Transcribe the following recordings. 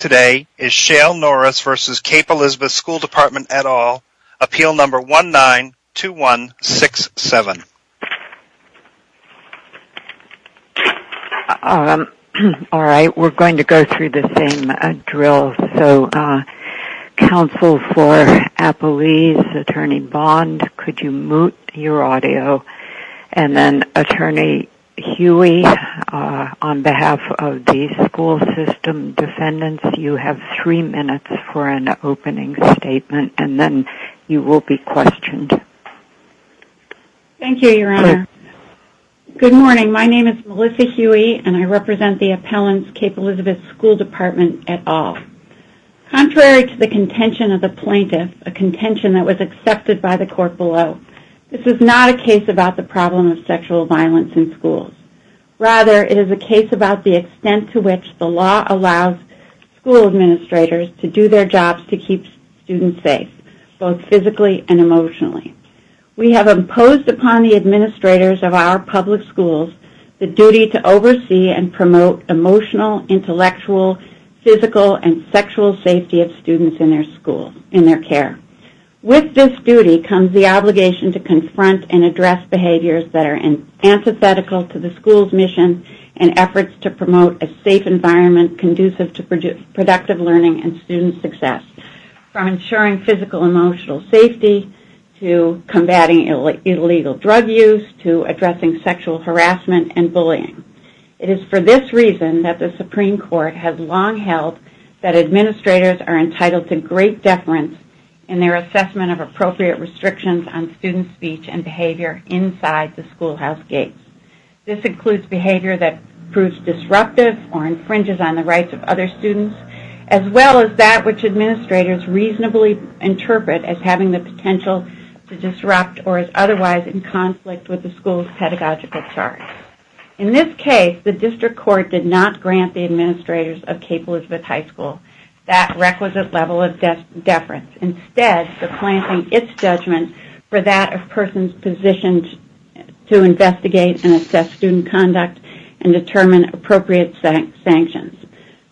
Today is Shale Norris v. Cape Elizabeth School Department et al. Appeal number 19-2167 You have three minutes for an opening statement, and then you will be questioned. Thank you, Your Honor. Good morning. My name is Melissa Huey, and I represent the appellant's Cape Elizabeth School Department et al. Contrary to the contention of the plaintiff, a contention that was accepted by the court below, this is not a case about the problem of sexual violence in schools. Rather, it is a case about the extent to which the law allows school administrators to do their jobs to keep students safe, both physically and emotionally. We have imposed upon the administrators of our public schools the duty to oversee and promote emotional, intellectual, physical, and sexual safety of students in their care. With this duty comes the obligation to confront and address behaviors that are antithetical to the school's mission and efforts to promote a safe environment conducive to productive learning and student success, from ensuring physical and emotional safety, to combating illegal drug use, to addressing sexual harassment and bullying. It is for this reason that the Supreme Court has long held that administrators are entitled to great deference in their assessment of appropriate restrictions on student speech and behavior inside the schoolhouse gates. This includes behavior that proves disruptive or infringes on the rights of other students, as well as that which administrators reasonably interpret as having the potential to disrupt or is otherwise in conflict with the school's pedagogical charge. In this case, the district court did not grant the administrators of Cape Elizabeth High School that requisite level of deference, instead supplanting its judgment for that of persons positioned to investigate and assess student conduct and determine appropriate sanctions.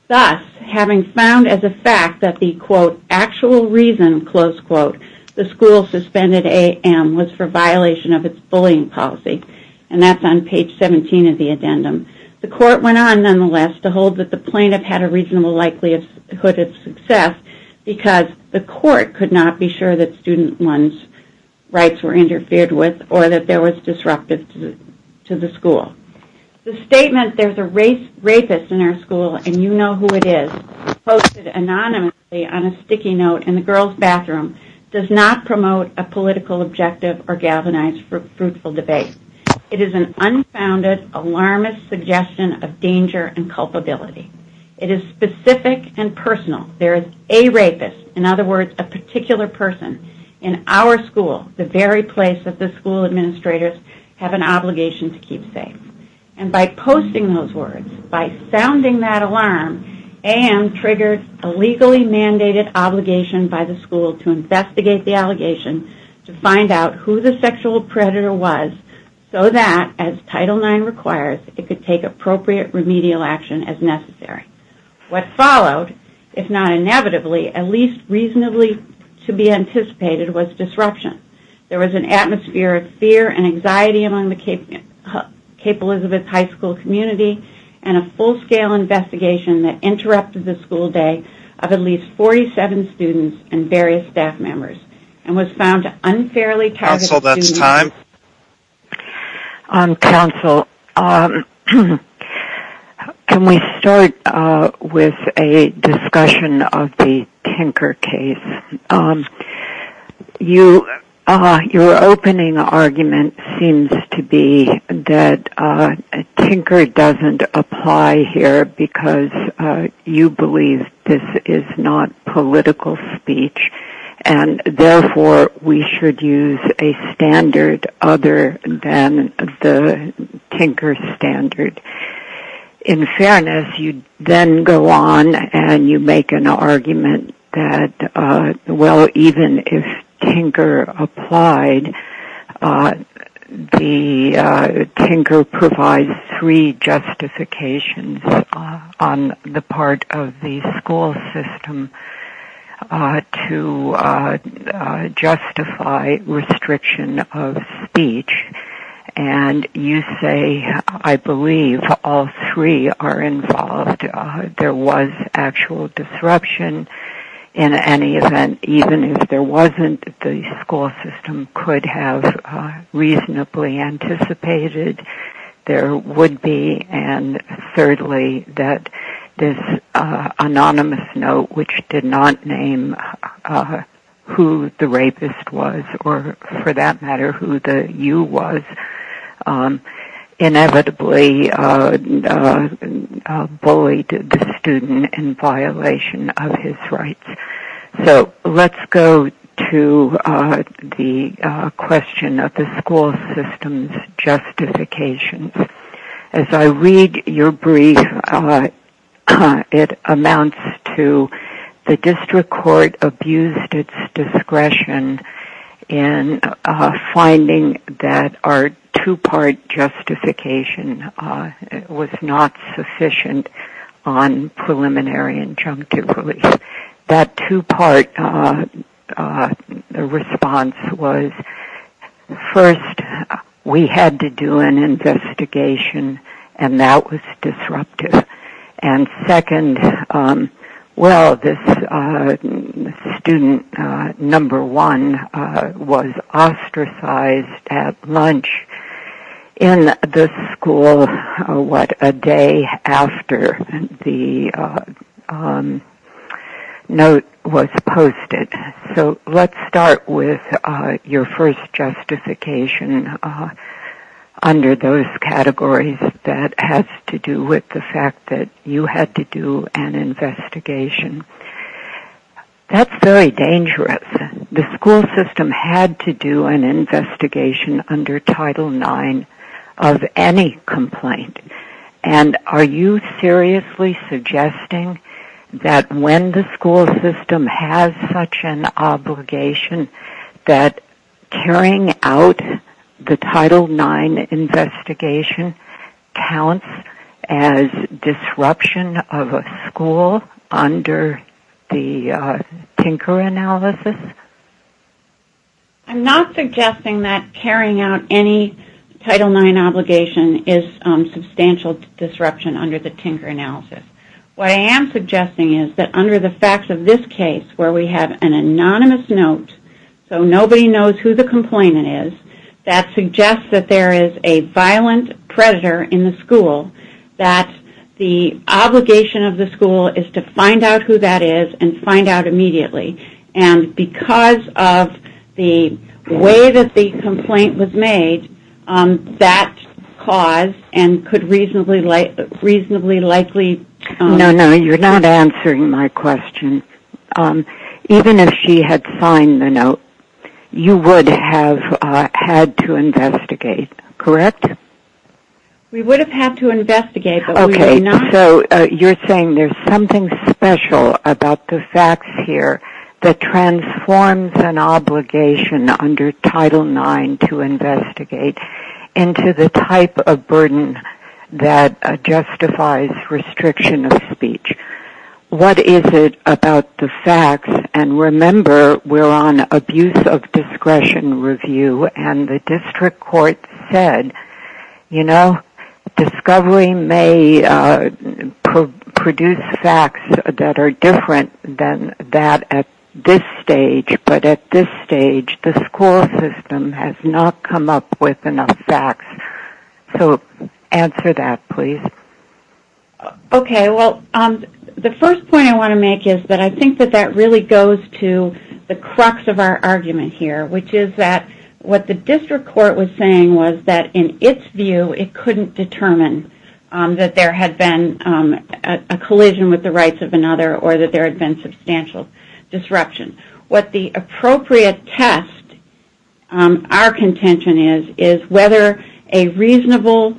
Thus, having found as a fact that the quote, actual reason, close quote, the school suspended AM was for violation of its bullying policy, and that's on page 17 of the addendum, the court went on nonetheless to hold that the plaintiff had a reasonable likelihood of success because the court could not be sure that student rights were interfered with or that there was disruptive to the school. The statement, there's a rapist in our school and you know who it is, posted anonymously on a sticky note in the girls' bathroom does not promote a political objective or galvanize fruitful debate. It is an unfounded, alarmist suggestion of danger and culpability. It is specific and personal. There is a rapist, in other words, a particular person in our school, the very place that the school administrators have an obligation to keep safe. And by posting those words, by sounding that alarm, AM triggered a legally mandated obligation by the school to investigate the allegation, to find out who the sexual predator was so that, as Title IX requires, it could take appropriate remedial action as necessary. What followed, if not inevitably, at least reasonably to be anticipated was disruption. There was an atmosphere of fear and anxiety among the Cape Elizabeth High School community and a full-scale investigation that interrupted the school day of at least 47 students and various staff members and was found unfairly targeted. Counsel, that's time. Counsel, can we start with a discussion of the Tinker case? Your opening argument seems to be that Tinker doesn't apply here because you believe this is not political speech and, therefore, we should use a standard other than the Tinker standard. In fairness, you then go on and you make an argument that, well, even if Tinker applied, the Tinker provides three justifications on the part of the school system to justify restriction of speech. And you say, I believe, all three are involved. There was actual disruption in any event. Even if there wasn't, the school system could have reasonably anticipated there would be. And, thirdly, that this anonymous note, which did not name who the rapist was or, for that matter, who the you was, inevitably bullied the student in violation of his rights. So, let's go to the question of the school system's justifications. As I read your brief, it amounts to the district court abused its discretion in finding that our two-part justification was not sufficient on preliminary injunctive. That two-part response was, first, we had to do an investigation, and that was disruptive. And, second, well, this student, number one, was ostracized at lunch in the school, what, a day after the note was posted. So, let's start with your first justification under those categories that has to do with the fact that you had to do an investigation. That's very dangerous. The school system had to do an investigation under Title IX of any complaint. And, are you seriously suggesting that when the school system has such an obligation, that carrying out the Title IX investigation counts as disruption of a school under the Tinker analysis? I'm not suggesting that carrying out any Title IX obligation is substantial disruption under the Tinker analysis. What I am suggesting is that under the facts of this case, where we have an anonymous note, so nobody knows who the complainant is, that suggests that there is a violent predator in the school, that the obligation of the school is to find out who that is and find out immediately. And, because of the way that the complaint was made, that caused and could reasonably likely... No, no, you're not answering my question. Even if she had signed the note, you would have had to investigate, correct? We would have had to investigate, but we did not. So, you're saying there's something special about the facts here that transforms an obligation under Title IX to investigate into the type of burden that justifies restriction of speech. What is it about the facts? And, remember, we're on abuse of discretion review, and the district court said, you know, discovery may produce facts that are different than that at this stage. But, at this stage, the school system has not come up with enough facts. So, answer that, please. Okay, well, the first point I want to make is that I think that that really goes to the crux of our argument here, which is that what the district court was saying was that, in its view, it couldn't determine that there had been a collision with the rights of another or that there had been substantial disruption. What the appropriate test, our contention is, is whether a reasonable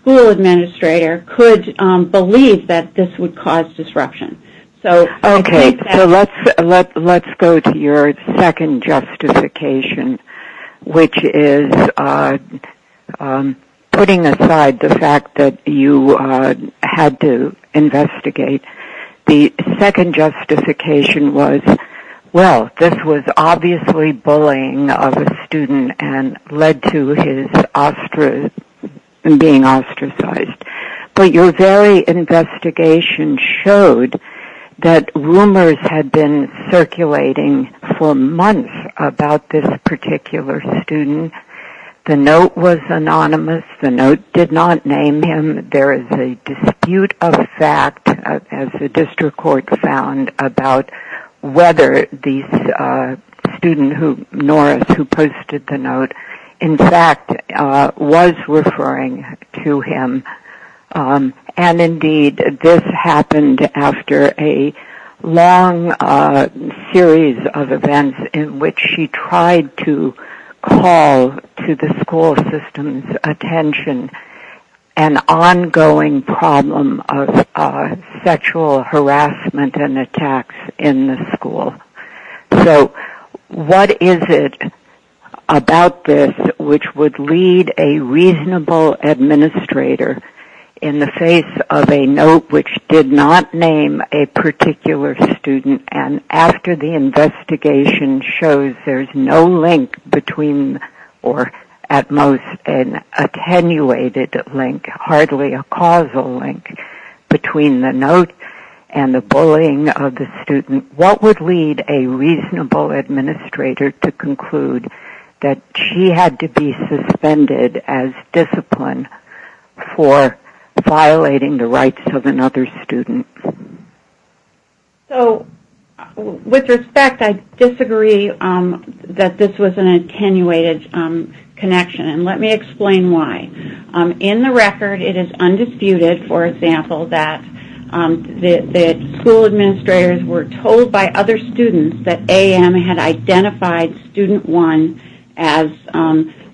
school administrator could believe that this would cause disruption. Okay, so let's go to your second justification, which is putting aside the fact that you had to investigate. The second justification was, well, this was obviously bullying of a student and led to his being ostracized. But your very investigation showed that rumors had been circulating for months about this particular student. The note was anonymous. The note did not name him. There is a dispute of fact, as the district court found, about whether the student who posted the note, in fact, was referring to him. And, indeed, this happened after a long series of events in which she tried to call to the school system's attention an ongoing problem of sexual harassment and attacks in the school. So what is it about this which would lead a reasonable administrator, in the face of a note which did not name a particular student, and after the investigation shows there's no link between, or at most an attenuated link, hardly a causal link, between the note and the bullying of the student, what would lead a reasonable administrator to conclude that she had to be suspended as discipline for violating the rights of another student? So, with respect, I disagree that this was an attenuated connection. And let me explain why. In the record, it is undisputed, for example, that the school administrators were told by other students that AM had identified student one as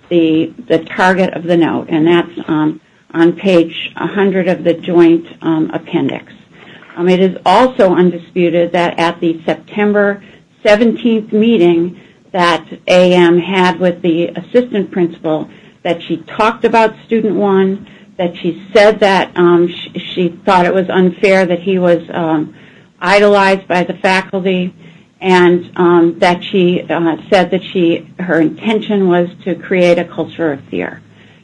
the target of the note. And that's on page 100 of the joint appendix. It is also undisputed that at the September 17th meeting that AM had with the assistant principal that she talked about student one, that she said that she thought it was unfair that he was idolized by the faculty, and that she said that her intention was to create a culture of fear.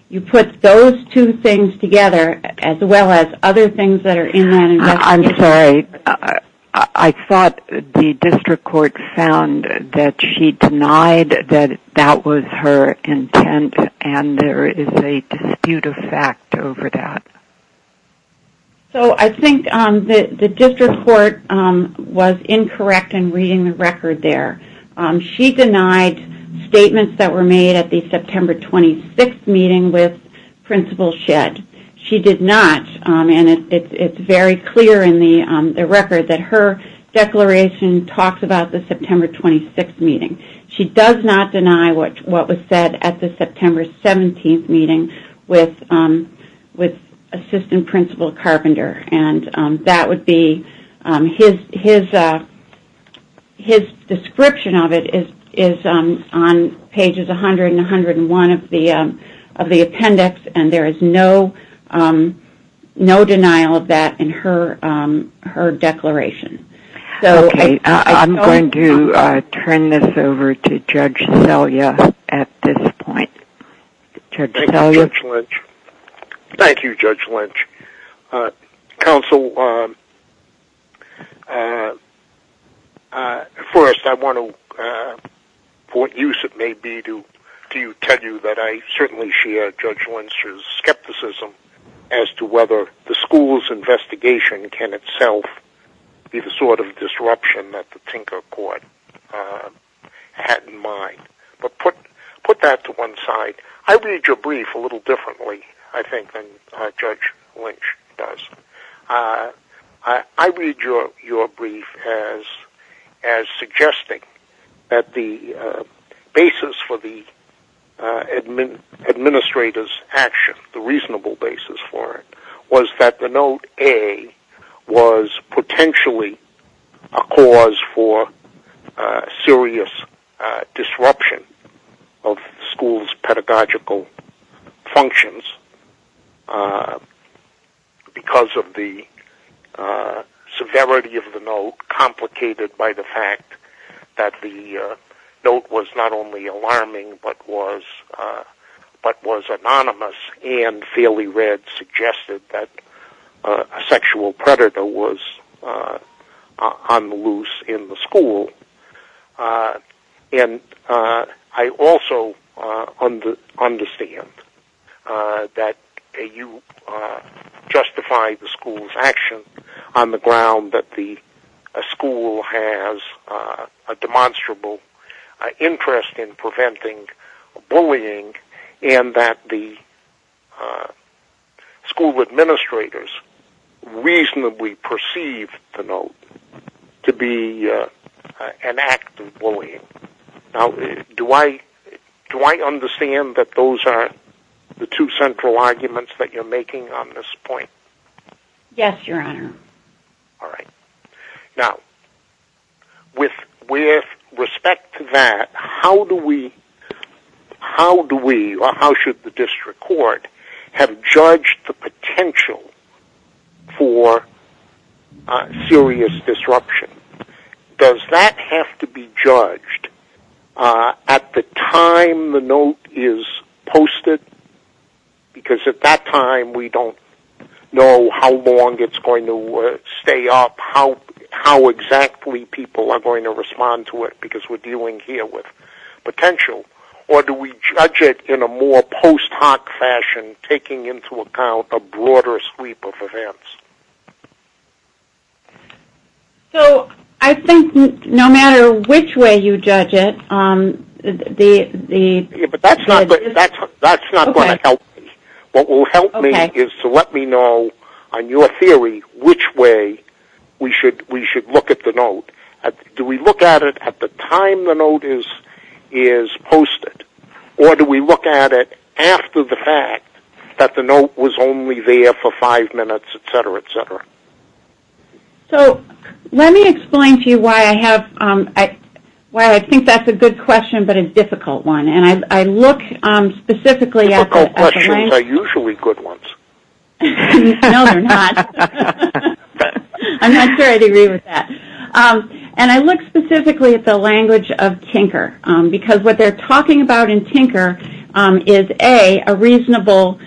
You put those two things together, as well as other things that are in that investigation. I'm sorry. I thought the district court found that she denied that that was her intent, and there is a dispute of fact over that. So, I think the district court was incorrect in reading the record there. She denied statements that were made at the September 26th meeting with Principal Shedd. She did not, and it's very clear in the record that her declaration talks about the September 26th meeting. She does not deny what was said at the September 17th meeting with Assistant Principal Carpenter. His description of it is on pages 100 and 101 of the appendix, and there is no denial of that in her declaration. I'm going to turn this over to Judge Selya at this point. Thank you, Judge Lynch. Counsel, first, I want to, for what use it may be to tell you that I certainly share Judge Lynch's skepticism as to whether the school's investigation can itself be the sort of disruption that the Tinker Court had in mind. But put that to one side. I read your brief a little differently, I think, than Judge Lynch does. I read your brief as suggesting that the basis for the administrator's action, the reasonable basis for it, was that the Note A was potentially a cause for serious disruption of schools' pedagogical functions because of the severity of the note, complicated by the fact that the note was not only alarming, but was anonymous and, fairly read, suggested that a sexual predator was on the loose in the school. And I also understand that you justify the school's action on the ground that the school has a demonstrable interest in preventing bullying and that the school administrators reasonably perceive the note to be an act of bullying. Now, do I understand that those are the two central arguments that you're making on this point? Yes, Your Honor. All right. Now, with respect to that, how should the district court have judged the potential for serious disruption? Does that have to be judged at the time the note is posted? Because at that time we don't know how long it's going to stay up, how exactly people are going to respond to it, because we're dealing here with potential. Or do we judge it in a more post hoc fashion, taking into account a broader sweep of events? So, I think no matter which way you judge it, the... But that's not going to help me. What will help me is to let me know, on your theory, which way we should look at the note. Do we look at it at the time the note is posted, or do we look at it after the fact, that the note was only there for five minutes, et cetera, et cetera? So, let me explain to you why I think that's a good question but a difficult one. And I look specifically at the language. Difficult questions are usually good ones. No, they're not. I'm not sure I agree with that. And I look specifically at the language of tinker, because what they're talking about in tinker is, A, a reasonable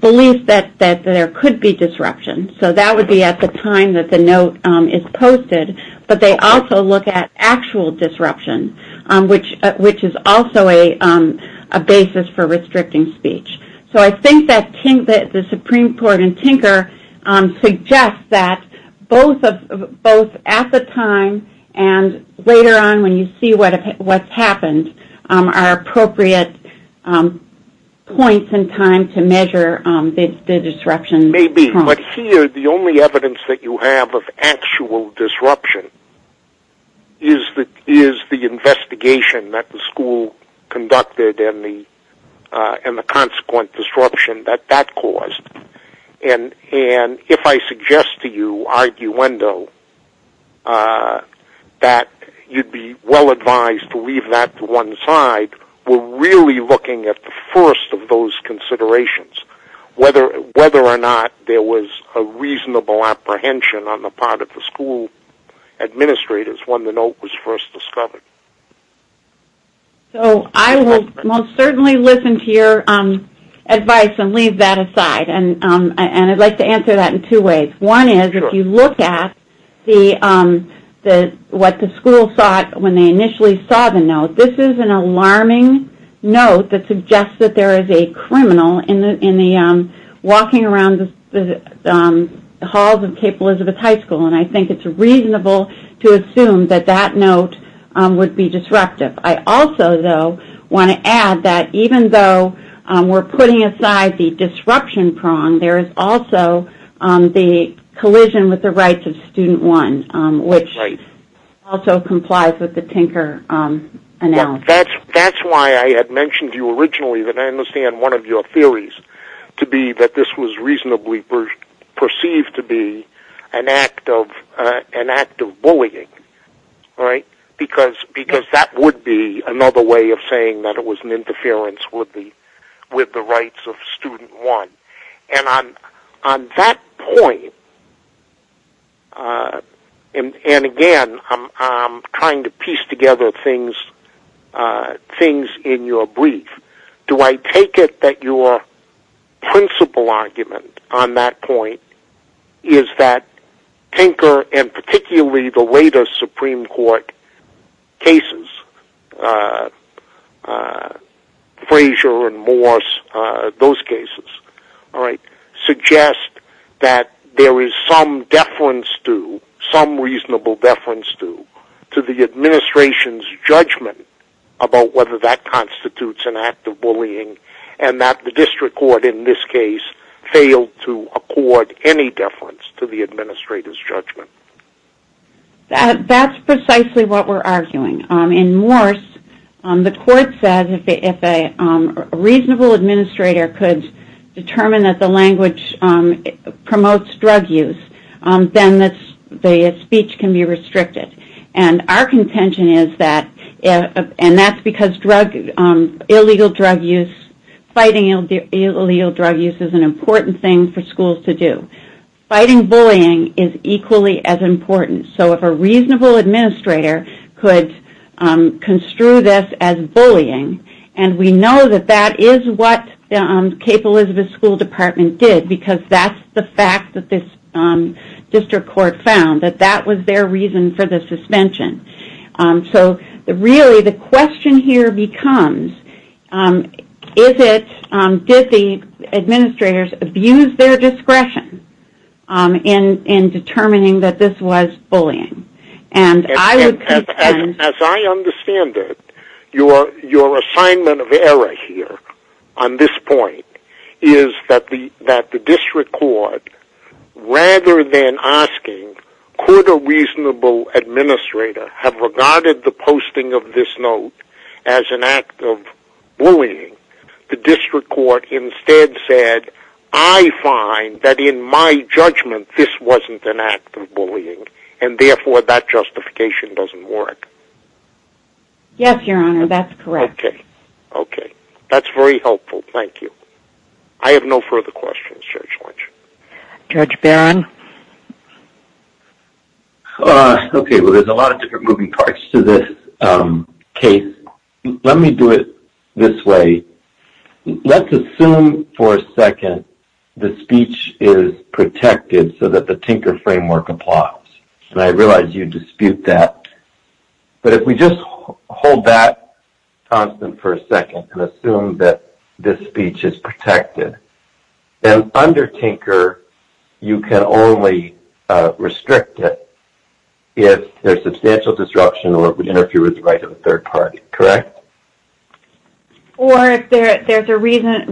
belief that there could be disruption. So, that would be at the time that the note is posted. But they also look at actual disruption, which is also a basis for restricting speech. So, I think that the Supreme Court in tinker suggests that both at the time and later on, when you see what's happened, are appropriate points in time to measure the disruption. Maybe. But here, the only evidence that you have of actual disruption is the investigation that the school conducted and the consequent disruption that that caused. And if I suggest to you, arguendo, that you'd be well advised to leave that to one side, we're really looking at the first of those considerations, whether or not there was a reasonable apprehension on the part of the school administrators when the note was first discovered. So, I will most certainly listen to your advice and leave that aside. And I'd like to answer that in two ways. One is, if you look at what the school thought when they initially saw the note, this is an alarming note that suggests that there is a criminal walking around the halls of Cape Elizabeth High School. And I think it's reasonable to assume that that note would be disruptive. I also, though, want to add that even though we're putting aside the disruption prong, there is also the collision with the rights of student one, which also complies with the tinker analysis. That's why I had mentioned to you originally, and I understand one of your theories to be that this was reasonably perceived to be an act of bullying, because that would be another way of saying that it was an interference with the rights of student one. On that point, and again, I'm trying to piece together things in your brief, do I take it that your principal argument on that point is that tinker, and particularly the latest Supreme Court cases, Frazier and Morse, those cases, suggest that there is some deference to, some reasonable deference to, to the administration's judgment about whether that constitutes an act of bullying, and that the district court in this case failed to accord any deference to the administrator's judgment? That's precisely what we're arguing. In Morse, the court said if a reasonable administrator could determine that the language promotes drug use, then the speech can be restricted. And our contention is that, and that's because illegal drug use, fighting illegal drug use is an important thing for schools to do. Fighting bullying is equally as important. So if a reasonable administrator could construe this as bullying, and we know that that is what Cape Elizabeth School Department did, because that's the fact that this district court found, that that was their reason for the suspension. So really the question here becomes, is it, did the administrators abuse their discretion in determining that this was bullying? And as I understand it, your assignment of error here on this point is that the district court, rather than asking could a reasonable administrator have regarded the posting of this note as an act of bullying, the district court instead said, I find that in my judgment this wasn't an act of bullying, and therefore that justification doesn't work. Yes, Your Honor, that's correct. Okay. Okay. That's very helpful. Thank you. I have no further questions, Judge Lynch. Judge Barron? Okay. Well, there's a lot of different moving parts to this case. Let me do it this way. Let's assume for a second the speech is protected so that the Tinker framework applies. And I realize you dispute that. But if we just hold that constant for a second and assume that this speech is protected, then under Tinker you can only restrict it if there's substantial disruption or if there's a right of a third party, correct? Or if there's a reason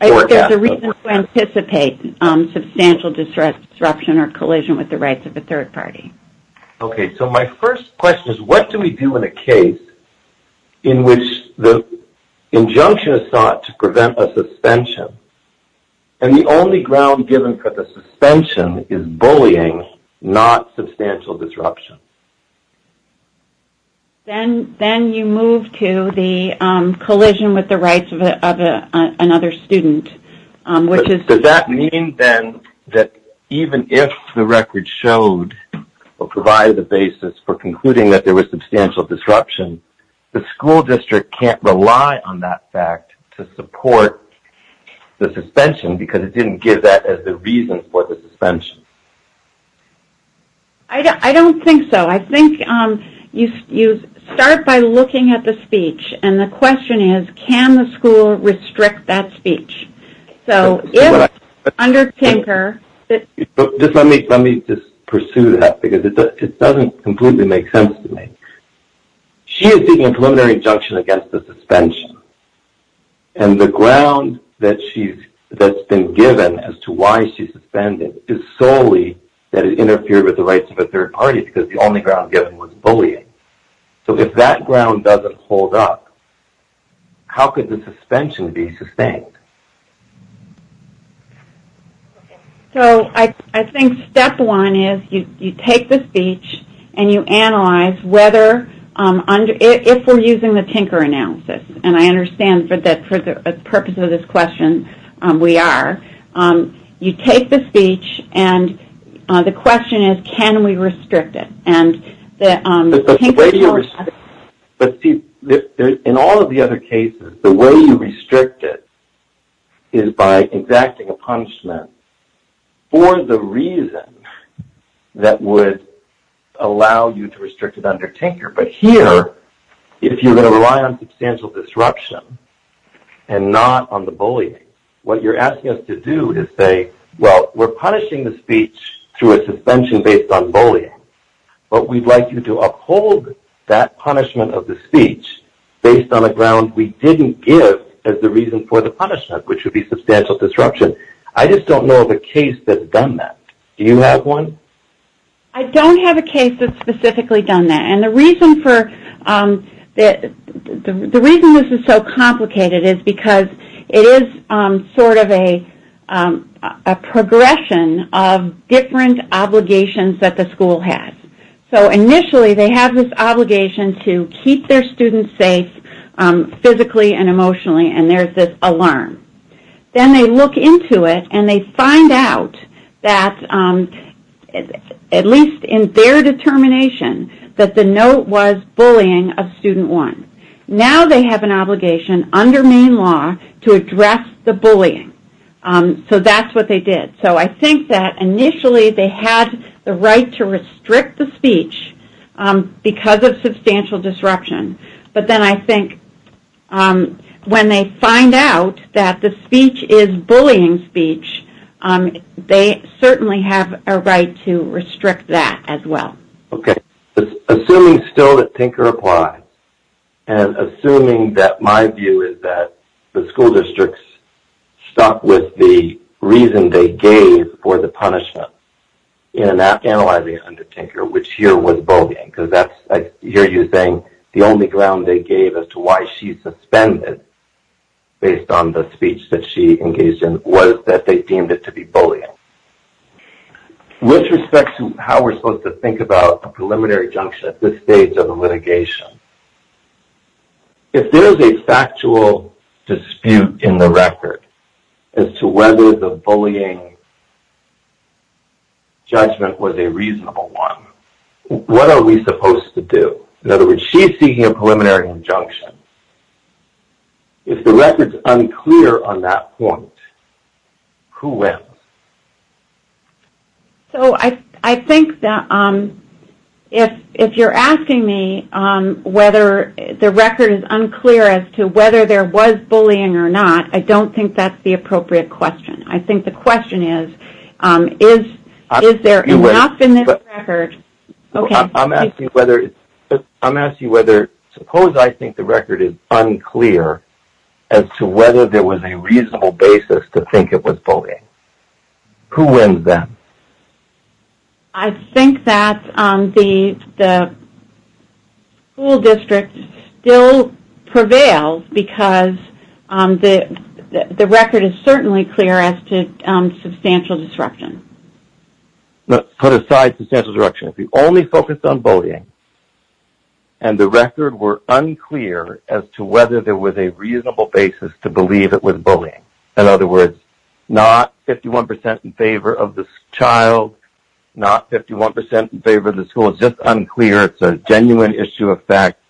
to anticipate substantial disruption or collision with the rights of a third party. Okay. So my first question is what do we do in a case in which the injunction is sought to prevent a suspension, and the only ground given for the suspension is bullying, not substantial disruption? Then you move to the collision with the rights of another student. Does that mean then that even if the record showed or provided the basis for concluding that there was substantial disruption, the school district can't rely on that fact to support the suspension because it didn't give that as the reason for the suspension? I don't think so. I think you start by looking at the speech. And the question is can the school restrict that speech? So if under Tinker – Let me just pursue that because it doesn't completely make sense to me. She is seeking a preliminary injunction against the suspension, and the ground that's been given as to why she's suspended is solely that it interfered with the rights of a third party because the only ground given was bullying. So if that ground doesn't hold up, how could the suspension be sustained? So I think step one is you take the speech, and you analyze if we're using the Tinker analysis. And I understand that for the purpose of this question we are. You take the speech, and the question is can we restrict it? But in all of the other cases, the way you restrict it is by exacting a punishment for the reason that would allow you to restrict it under Tinker. But here, if you're going to rely on substantial disruption and not on the bullying, what you're asking us to do is say, well, we're punishing the speech through a suspension based on bullying, but we'd like you to uphold that punishment of the speech based on a ground we didn't give as the reason for the punishment, which would be substantial disruption. I just don't know of a case that's done that. Do you have one? I don't have a case that's specifically done that. And the reason this is so complicated is because it is sort of a progression of different obligations that the school has. So initially they have this obligation to keep their students safe physically and emotionally, and there's this alarm. Then they look into it and they find out that, at least in their determination, that the note was bullying of student one. Now they have an obligation under Maine law to address the bullying. So that's what they did. So I think that initially they had the right to restrict the speech because of substantial disruption, but then I think when they find out that the speech is bullying speech, they certainly have a right to restrict that as well. Okay. Assuming still that Tinker applies and assuming that my view is that the school districts stuck with the reason they gave for the punishment in analyzing it under Tinker, which here was bullying, because that's, I hear you saying, the only ground they gave as to why she suspended based on the speech that she engaged in was that they deemed it to be bullying. With respect to how we're supposed to think about a preliminary judgment at this stage of the litigation, if there's a factual dispute in the record as to whether the bullying judgment was a reasonable one, what are we supposed to do? In other words, she's seeking a preliminary injunction. If the record's unclear on that point, who wins? So I think that if you're asking me whether the record is unclear as to whether there was bullying or not, I don't think that's the appropriate question. I think the question is, is there enough in this record? Okay. I'm asking whether, suppose I think the record is unclear as to whether there was a reasonable basis to think it was bullying. Who wins then? I think that the school district still prevails because the record is certainly clear as to substantial disruption. Let's put aside substantial disruption. If you only focused on bullying and the record were unclear as to whether there was a reasonable basis to believe it was bullying, in other words, not 51% in favor of the child, not 51% in favor of the school. It's just unclear. It's a genuine issue of fact.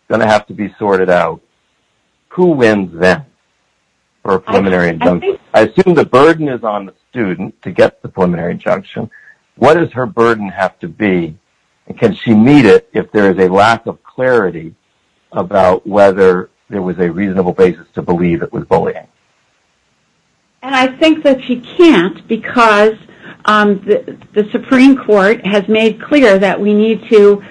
It's going to have to be sorted out. Who wins then for a preliminary injunction? I assume the burden is on the student to get the preliminary injunction. What does her burden have to be? Can she meet it if there is a lack of clarity about whether there was a reasonable basis to believe it was bullying? I think that she can't because the Supreme Court has made clear that we need to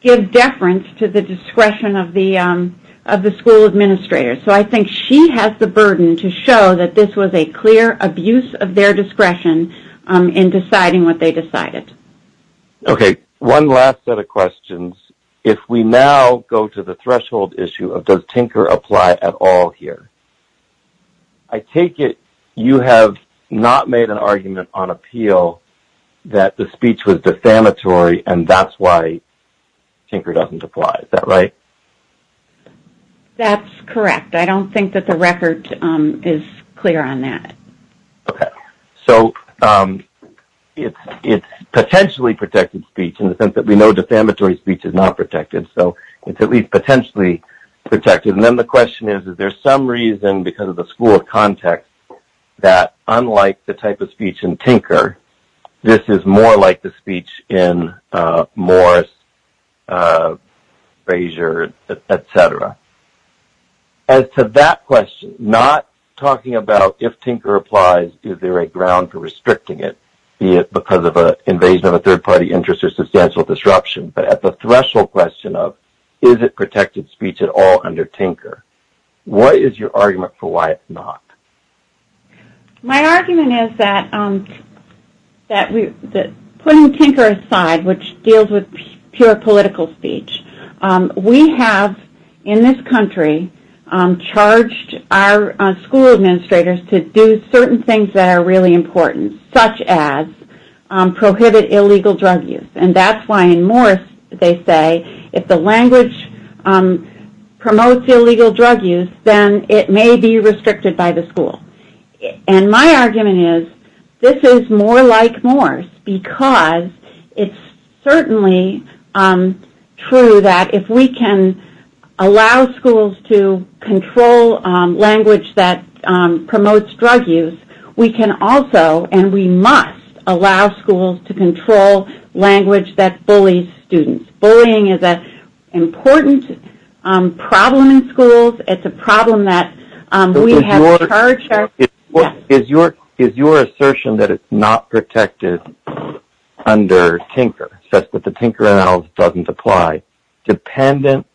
give deference to the discretion of the school administrator. I think she has the burden to show that this was a clear abuse of their discretion in deciding what they decided. Okay. One last set of questions. If we now go to the threshold issue of does Tinker apply at all here, I take it you have not made an argument on appeal that the speech was defamatory and that's why Tinker doesn't apply. Is that right? That's correct. I don't think that the record is clear on that. Okay. So, it's potentially protected speech in the sense that we know defamatory speech is not protected. So, it's at least potentially protected. And then the question is, is there some reason because of the school of context that unlike the type of speech in Tinker, this is more like the speech in Morris, Frazier, et cetera? As to that question, not talking about if Tinker applies, is there a ground for restricting it because of an invasion of a third-party interest or substantial disruption, but at the threshold question of is it protected speech at all under Tinker? What is your argument for why it's not? My argument is that putting Tinker aside, which deals with pure political speech, we have in this country charged our school administrators to do certain things that are really important, such as prohibit illegal drug use. And that's why in Morris they say if the language promotes illegal drug use, then it may be restricted by the school. And my argument is this is more like Morris because it's certainly true that if we can allow schools to control language that promotes drug use, we can also and we must allow schools to control language that bullies students. Bullying is an important problem in schools. Is your assertion that it's not protected under Tinker, that the Tinker analysis doesn't apply, dependent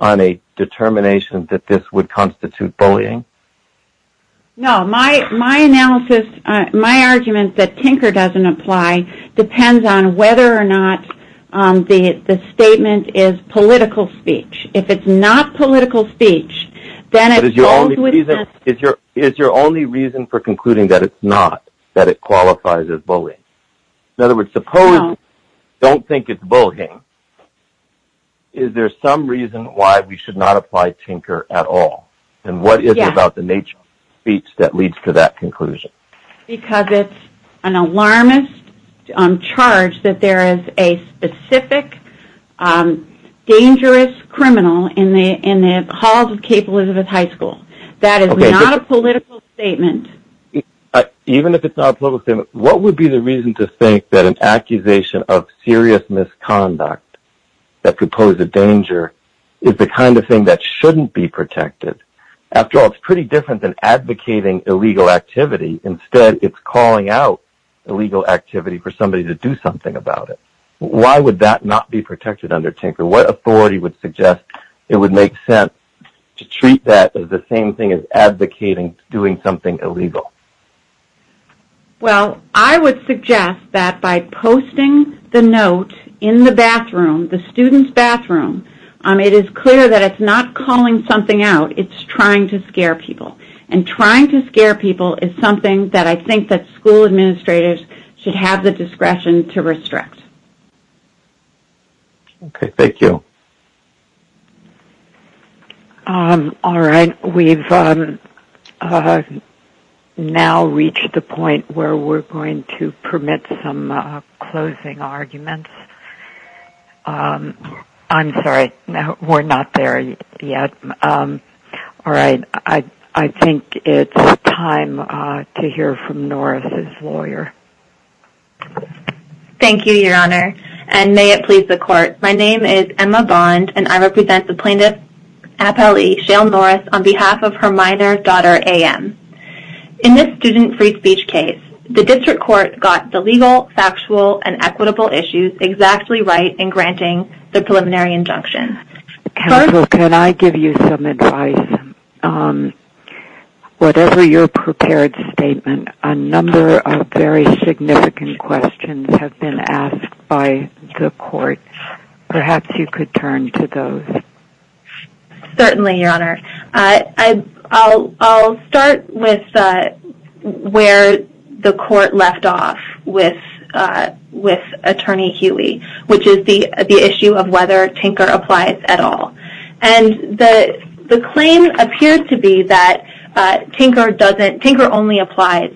on a determination that this would constitute bullying? No, my argument that Tinker doesn't apply depends on whether or not the statement is political speech. If it's not political speech, then it goes with that. But is your only reason for concluding that it's not, that it qualifies as bullying? In other words, suppose you don't think it's bullying, is there some reason why we should not apply Tinker at all? And what is it about the nature of speech that leads to that conclusion? Because it's an alarmist charge that there is a specific dangerous criminal in the halls of Cape Elizabeth High School. That is not a political statement. Even if it's not a political statement, what would be the reason to think that an accusation of serious misconduct that could pose a danger is the kind of thing that shouldn't be protected? After all, it's pretty different than advocating illegal activity. Instead, it's calling out illegal activity for somebody to do something about it. Why would that not be protected under Tinker? What authority would suggest it would make sense to treat that as the same thing as advocating doing something illegal? Well, I would suggest that by posting the note in the bathroom, the student's bathroom, it is clear that it's not calling something out. It's trying to scare people. And trying to scare people is something that I think that school administrators should have the discretion to restrict. Okay, thank you. All right, we've now reached the point where we're going to permit some closing arguments. I'm sorry, we're not there yet. All right, I think it's time to hear from Norris's lawyer. Thank you, Your Honor, and may it please the Court. My name is Emma Bond, and I represent the plaintiff, Appellee Shale Norris, on behalf of her minor daughter, A.M. In this student free speech case, the district court got the legal, factual, and equitable issues exactly right in granting the preliminary injunction. Counsel, can I give you some advice? Whatever your prepared statement, a number of very significant questions have been asked by the court. Perhaps you could turn to those. Certainly, Your Honor. I'll start with where the court left off with Attorney Huey, which is the issue of whether Tinker applies at all. And the claim appears to be that Tinker only applies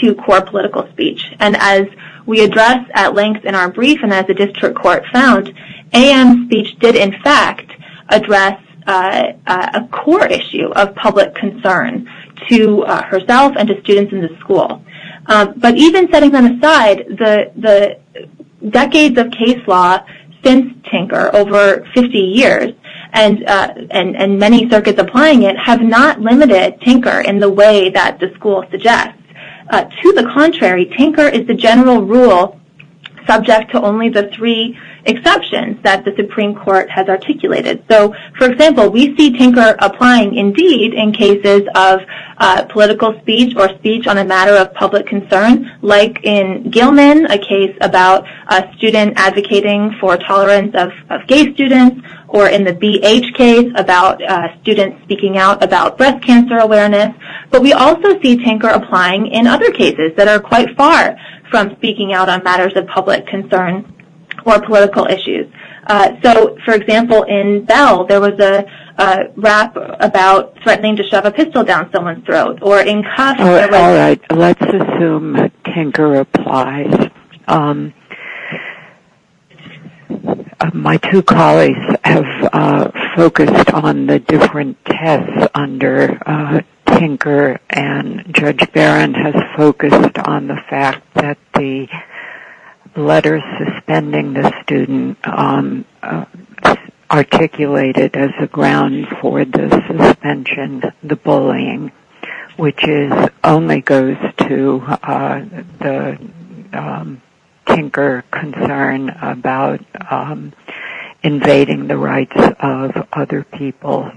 to core political speech. And as we addressed at length in our brief and as the district court found, A.M. speech did, in fact, address a core issue of public concern to herself and to students in the school. But even setting them aside, the decades of case law since Tinker, over 50 years, and many circuits applying it, have not limited Tinker in the way that the school suggests. To the contrary, Tinker is the general rule subject to only the three exceptions that the Supreme Court has articulated. So, for example, we see Tinker applying, indeed, in cases of political speech or speech on a matter of public concern, like in Gilman, a case about a student advocating for tolerance of gay students, or in the BH case about students speaking out about breast cancer awareness. But we also see Tinker applying in other cases that are quite far from speaking out on matters of public concern or political issues. So, for example, in Bell, there was a rap about threatening to shove a pistol down someone's throat. Let's assume that Tinker applies. My two colleagues have focused on the different tests under Tinker, and Judge Barron has focused on the fact that the letter suspending the student articulated as a ground for the suspension, the bullying, which only goes to the Tinker concern about invading the rights of other people.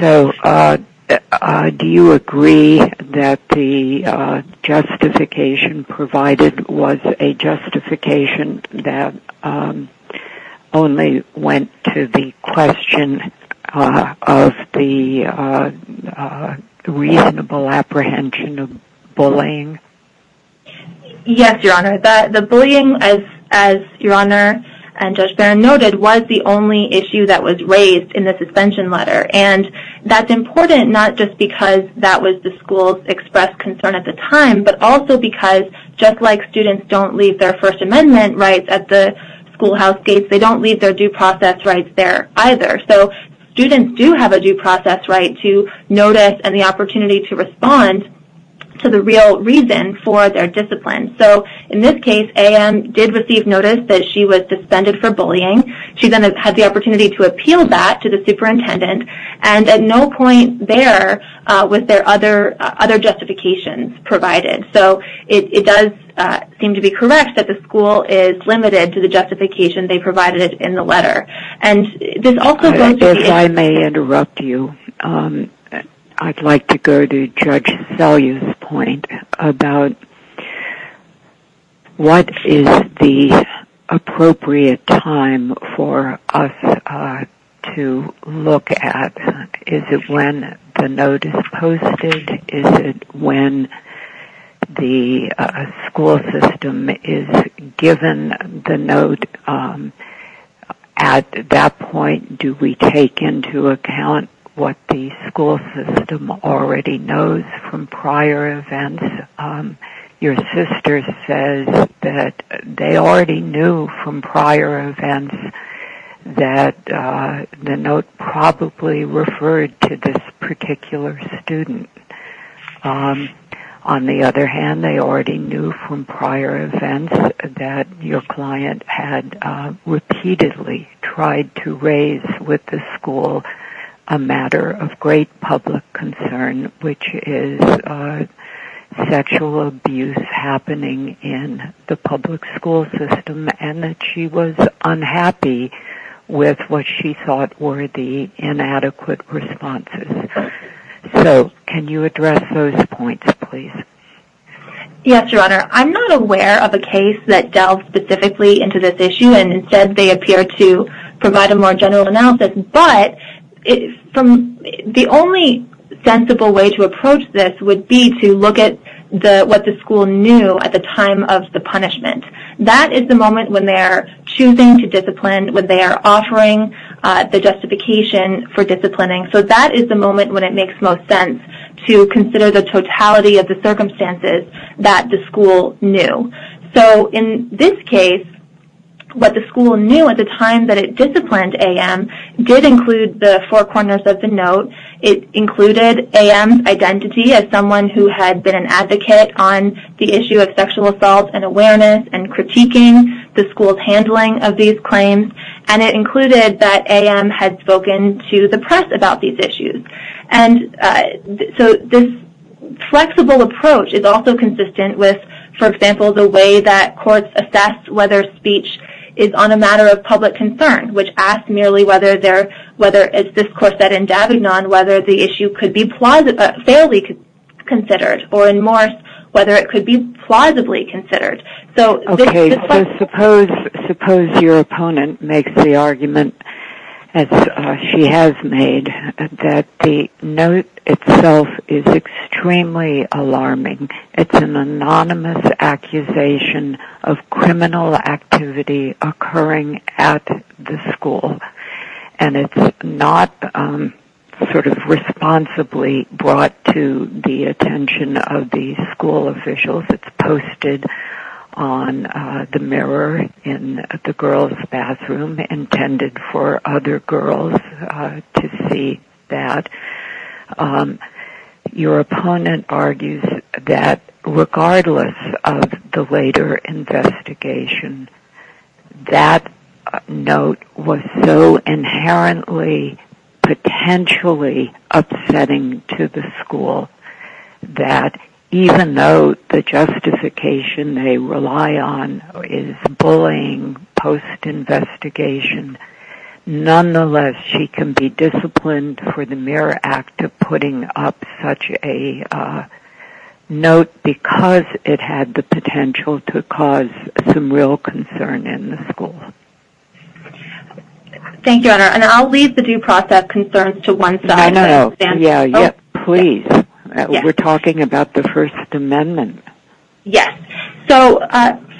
So, do you agree that the justification provided was a justification that only went to the question of the reasonable apprehension of bullying? Yes, Your Honor. The bullying, as Your Honor and Judge Barron noted, was the only issue that was raised in the suspension letter. And that's important not just because that was the school's expressed concern at the time, but also because, just like students don't leave their First Amendment rights at the schoolhouse case, they don't leave their due process rights there either. So, students do have a due process right to notice and the opportunity to respond to the real reason for their discipline. So, in this case, A.M. did receive notice that she was suspended for bullying. She then had the opportunity to appeal that to the superintendent. And at no point there was there other justification provided. So, it does seem to be correct that the school is limited to the justification they provided in the letter. If I may interrupt you, I'd like to go to Judge Salyer's point about what is the appropriate time for us to look at. Is it when the note is posted? Is it when the school system is given the note? At that point, do we take into account what the school system already knows from prior events? Your sister says that they already knew from prior events that the note probably referred to this particular student. On the other hand, they already knew from prior events that your client had repeatedly tried to raise with the school a matter of great public concern, which is sexual abuse happening in the public school system, and that she was unhappy with what she thought were the inadequate responses. So, can you address those points, please? Yes, Your Honor. I'm not aware of a case that delved specifically into this issue, and instead they appear to provide a more general analysis. But the only sensible way to approach this would be to look at what the school knew at the time of the punishment. That is the moment when they are choosing to discipline, when they are offering the justification for disciplining. So, that is the moment when it makes most sense to consider the totality of the circumstances that the school knew. So, in this case, what the school knew at the time that it disciplined A.M. did include the four corners of the note. It included A.M.'s identity as someone who had been an advocate on the issue of sexual assault and awareness and critiquing the school's handling of these claims, and it included that A.M. had spoken to the press about these issues. So, this flexible approach is also consistent with, for example, the way that courts assess whether speech is on a matter of public concern, which asks merely whether, as this court said in Davignon, whether the issue could be fairly considered, or in Morse, whether it could be plausibly considered. Suppose your opponent makes the argument, as she has made, that the note itself is extremely alarming. It is an anonymous accusation of criminal activity occurring at the school, and it is not responsibly brought to the attention of the school officials. It is posted on the mirror in the girls' bathroom, intended for other girls to see that. Your opponent argues that, regardless of the later investigation, that note was so inherently, potentially upsetting to the school that, even though the justification they rely on is bullying post-investigation, nonetheless, she can be disciplined for the mere act of putting up such a note because it had the potential to cause some real concern in the school. Thank you, Honor. And I'll leave the due process concerns to one side. Please. We're talking about the First Amendment. Yes. So,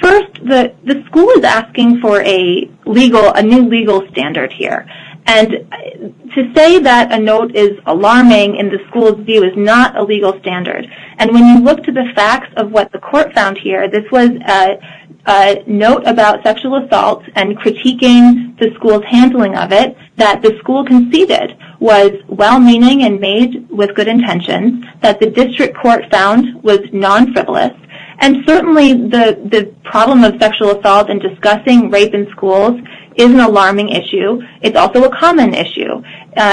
first, the school is asking for a new legal standard here. And to say that a note is alarming in the school's view is not a legal standard. And when you look to the facts of what the court found here, this was a note about sexual assault and critiquing the school's handling of it that the school conceded was well-meaning and made with good intentions, that the district court found was non-frivolous, and certainly the problem of sexual assault in discussing rape in schools is an alarming issue. It's also a common issue.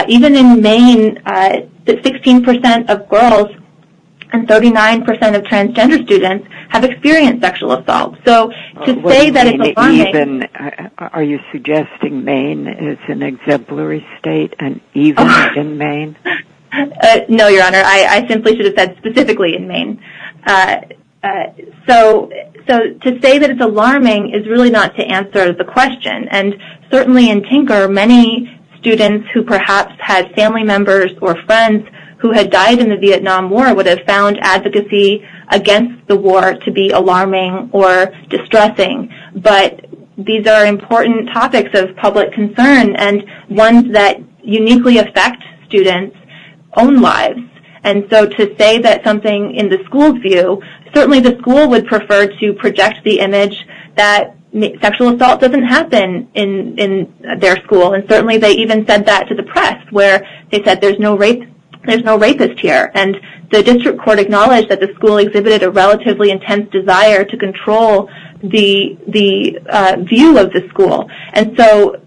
Even in Maine, 16% of girls and 39% of transgender students have experienced sexual assault. Are you suggesting Maine is an exemplary state and even in Maine? No, Your Honor. I simply should have said specifically in Maine. So, to say that it's alarming is really not to answer the question. And certainly in Tinker, many students who perhaps had family members or friends who had died in the Vietnam War would have found advocacy against the war to be alarming or distressing, but these are important topics of public concern and ones that uniquely affect students' own lives. And so to say that something in the school's view, certainly the school would prefer to project the image that sexual assault doesn't happen in their school. And certainly they even sent that to the press where they said there's no rapists here. And the district court acknowledged that the school exhibited a relatively intense desire to control the view of the school. And so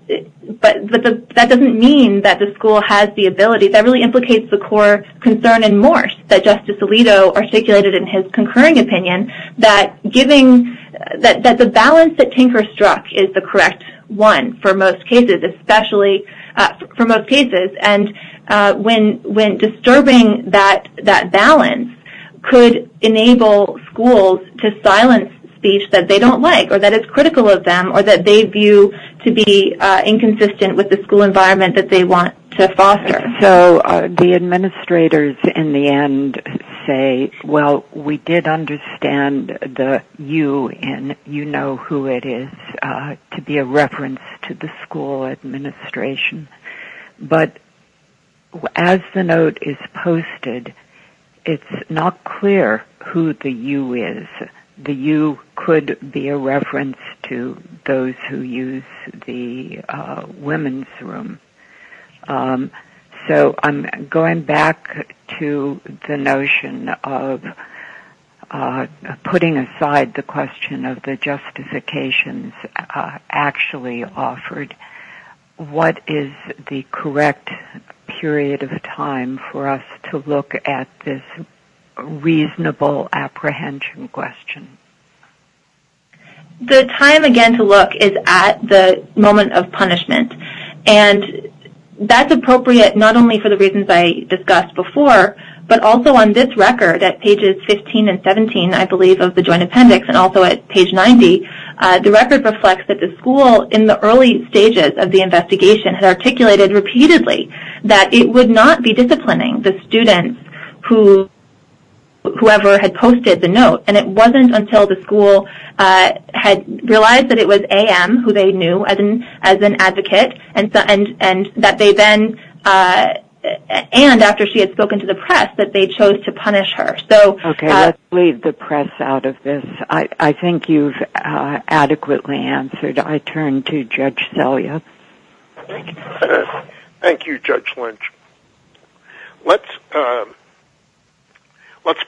that doesn't mean that the school has the ability. That really implicates the core concern in Morse that Justice Alito articulated in his concurring opinion that the balance that Tinker struck is the correct one for most cases, especially for most cases. And when disturbing that balance could enable schools to silence speech that they don't like or that is critical of them or that they view to be inconsistent with the school environment that they want to foster. So the administrators in the end say, well, we did understand the you and you know who it is to be a reference to the school administration. But as the note is posted, it's not clear who the you is. The you could be a reference to those who use the women's room. So I'm going back to the notion of putting aside the question of the justifications actually offered. And I'm going to ask you to explain to me what is the correct period of time for us to look at this reasonable apprehension question. The time again to look is at the moment of punishment. And that's appropriate not only for the reasons I discussed before, but also on this record at pages 15 and 17, I believe, of the Joint Appendix and also at page 90. The record reflects that the school in the early stages of the investigation had articulated repeatedly that it would not be disciplining the students whoever had posted the note. And it wasn't until the school had realized that it was A.M. who they knew as an advocate and that they then, and after she had spoken to the press, that they chose to punish her. So I'll leave the press out of this. I think you've adequately answered. I turn to Judge Selya. Thank you, Judge Lynch. Let's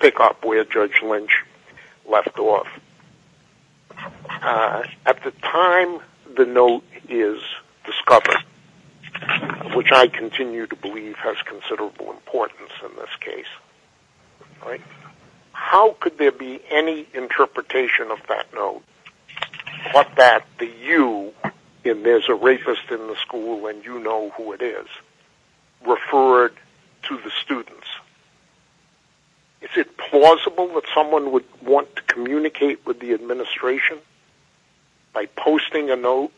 pick up where Judge Lynch left off. At the time the note is discovered, which I continue to believe has considerable importance in this case, how could there be any interpretation of that note but that the you, and there's a rapist in the school and you know who it is, referred to the students? Is it plausible that someone would want to communicate with the administration by posting a note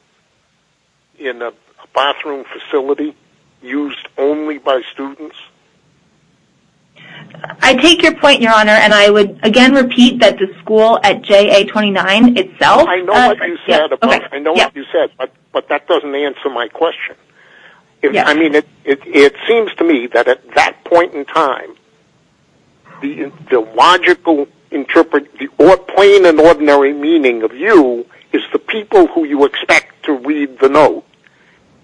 in a bathroom facility used only by students? I take your point, Your Honor, and I would again repeat that the school at J.A. 29 itself. I know what you said, but that doesn't answer my question. It seems to me that at that point in time, the logical, plain and ordinary meaning of you is the people who you expect to read the note,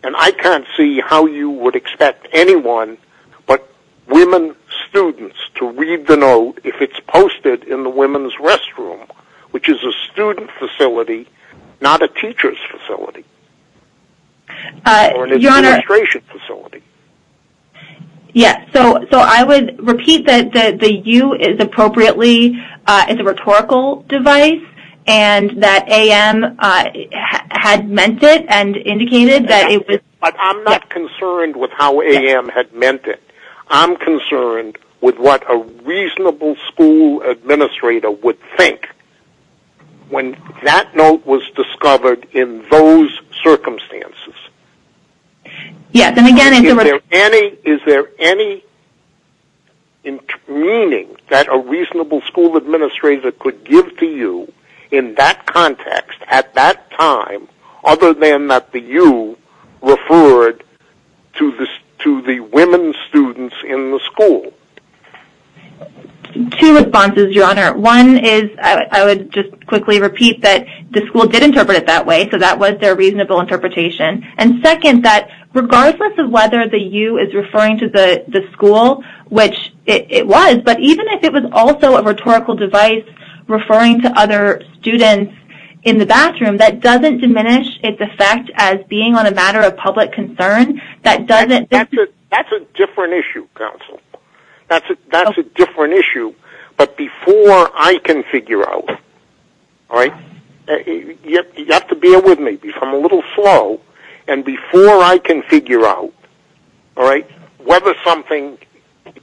and I can't see how you would expect anyone but women students to read the note if it's posted in the women's restroom, which is a student facility, not a teacher's facility. Or an administration facility. Yes, so I would repeat that the you is appropriately a rhetorical device, and that A.M. had meant it and indicated that it was... But I'm not concerned with how A.M. had meant it. I'm concerned with what a reasonable school administrator would think when that note was discovered in those circumstances. Yes, and again... Is there any meaning that a reasonable school administrator could give to you in that context at that time other than that the you referred to the women students in the school? Two responses, Your Honor. One is I would just quickly repeat that the school did interpret it that way, so that was their reasonable interpretation. And second, that regardless of whether the you is referring to the school, which it was, but even if it was also a rhetorical device referring to other students in the bathroom, that doesn't diminish its effect as being on a matter of public concern. That's a different issue, counsel. That's a different issue. But before I can figure out, all right, you have to bear with me. I'm a little slow. And before I can figure out, all right, whether something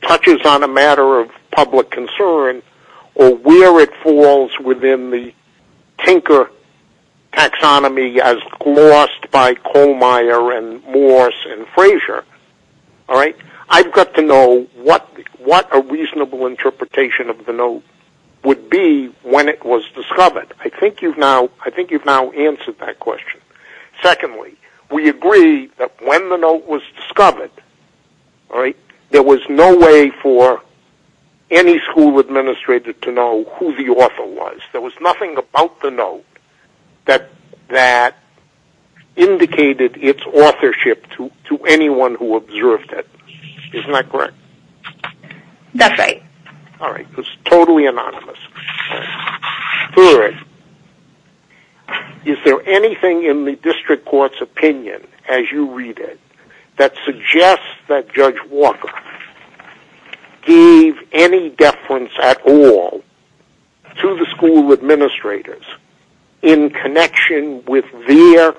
touches on a matter of public concern or where it falls within the Tinker taxonomy as lost by Colmeyer and Morse and Frazier, all right, I've got to know what a reasonable interpretation of the note would be when it was discovered. I think you've now answered that question. Secondly, we agree that when the note was discovered, all right, there was no way for any school administrator to know who the author was. There was nothing about the note that indicated its authorship to anyone who observed it. Isn't that correct? That's right. All right. It's totally anonymous. Third, is there anything in the district court's opinion, as you read it, that suggests that Judge Walker gave any deference at all to the school administrators in connection with their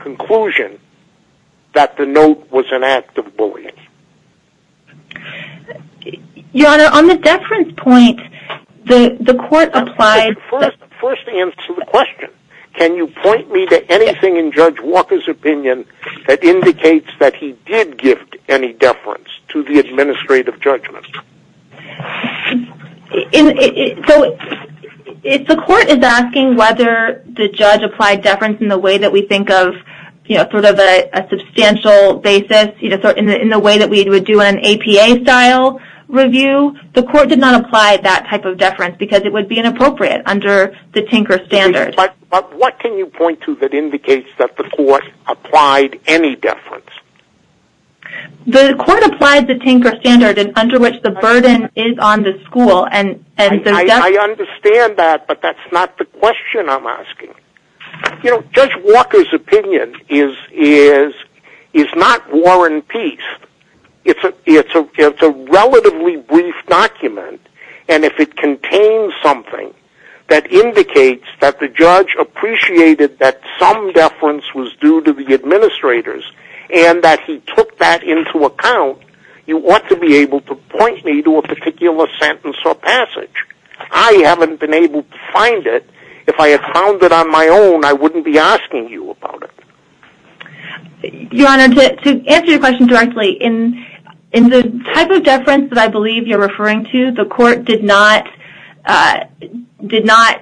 conclusion that the note was an act of bullying? Your Honor, on the deference point, the court applied... First answer the question. Can you point me to anything in Judge Walker's opinion that indicates that he did give any deference to the administrative judgements? So if the court is asking whether the judge applied deference in the way that we think of, you know, sort of a substantial basis, you know, in the way that we would do an APA-style review, the court did not apply that type of deference because it would be inappropriate under the Tinker standard. But what can you point to that indicates that the court applied any deference? The court applied the Tinker standard under which the burden is on the school. I understand that, but that's not the question I'm asking. You know, Judge Walker's opinion is not war and peace. It's a relatively brief document, and if it contains something that indicates that the judge appreciated that some deference was due to the administrators and that he took that into account, you ought to be able to point me to a particular sentence or passage. I haven't been able to find it. If I had found it on my own, I wouldn't be asking you about it. Your Honor, to answer your question directly, in the type of deference that I believe you're referring to, the court did not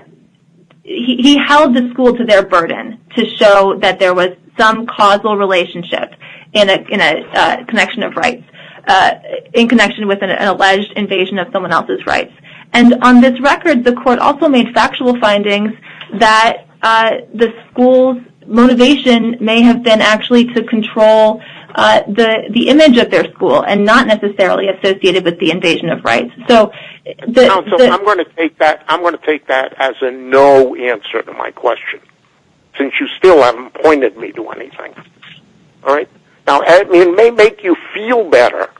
– he held the school to their burden to show that there was some causal relationship in a connection of rights, in connection with an alleged invasion of someone else's rights. And on this record, the court also made factual findings that the school's motivation may have been actually to control the image of their school and not necessarily associated with the invasion of rights. I'm going to take that as a no answer to my question, since you still haven't pointed me to anything. Now, it may make you feel better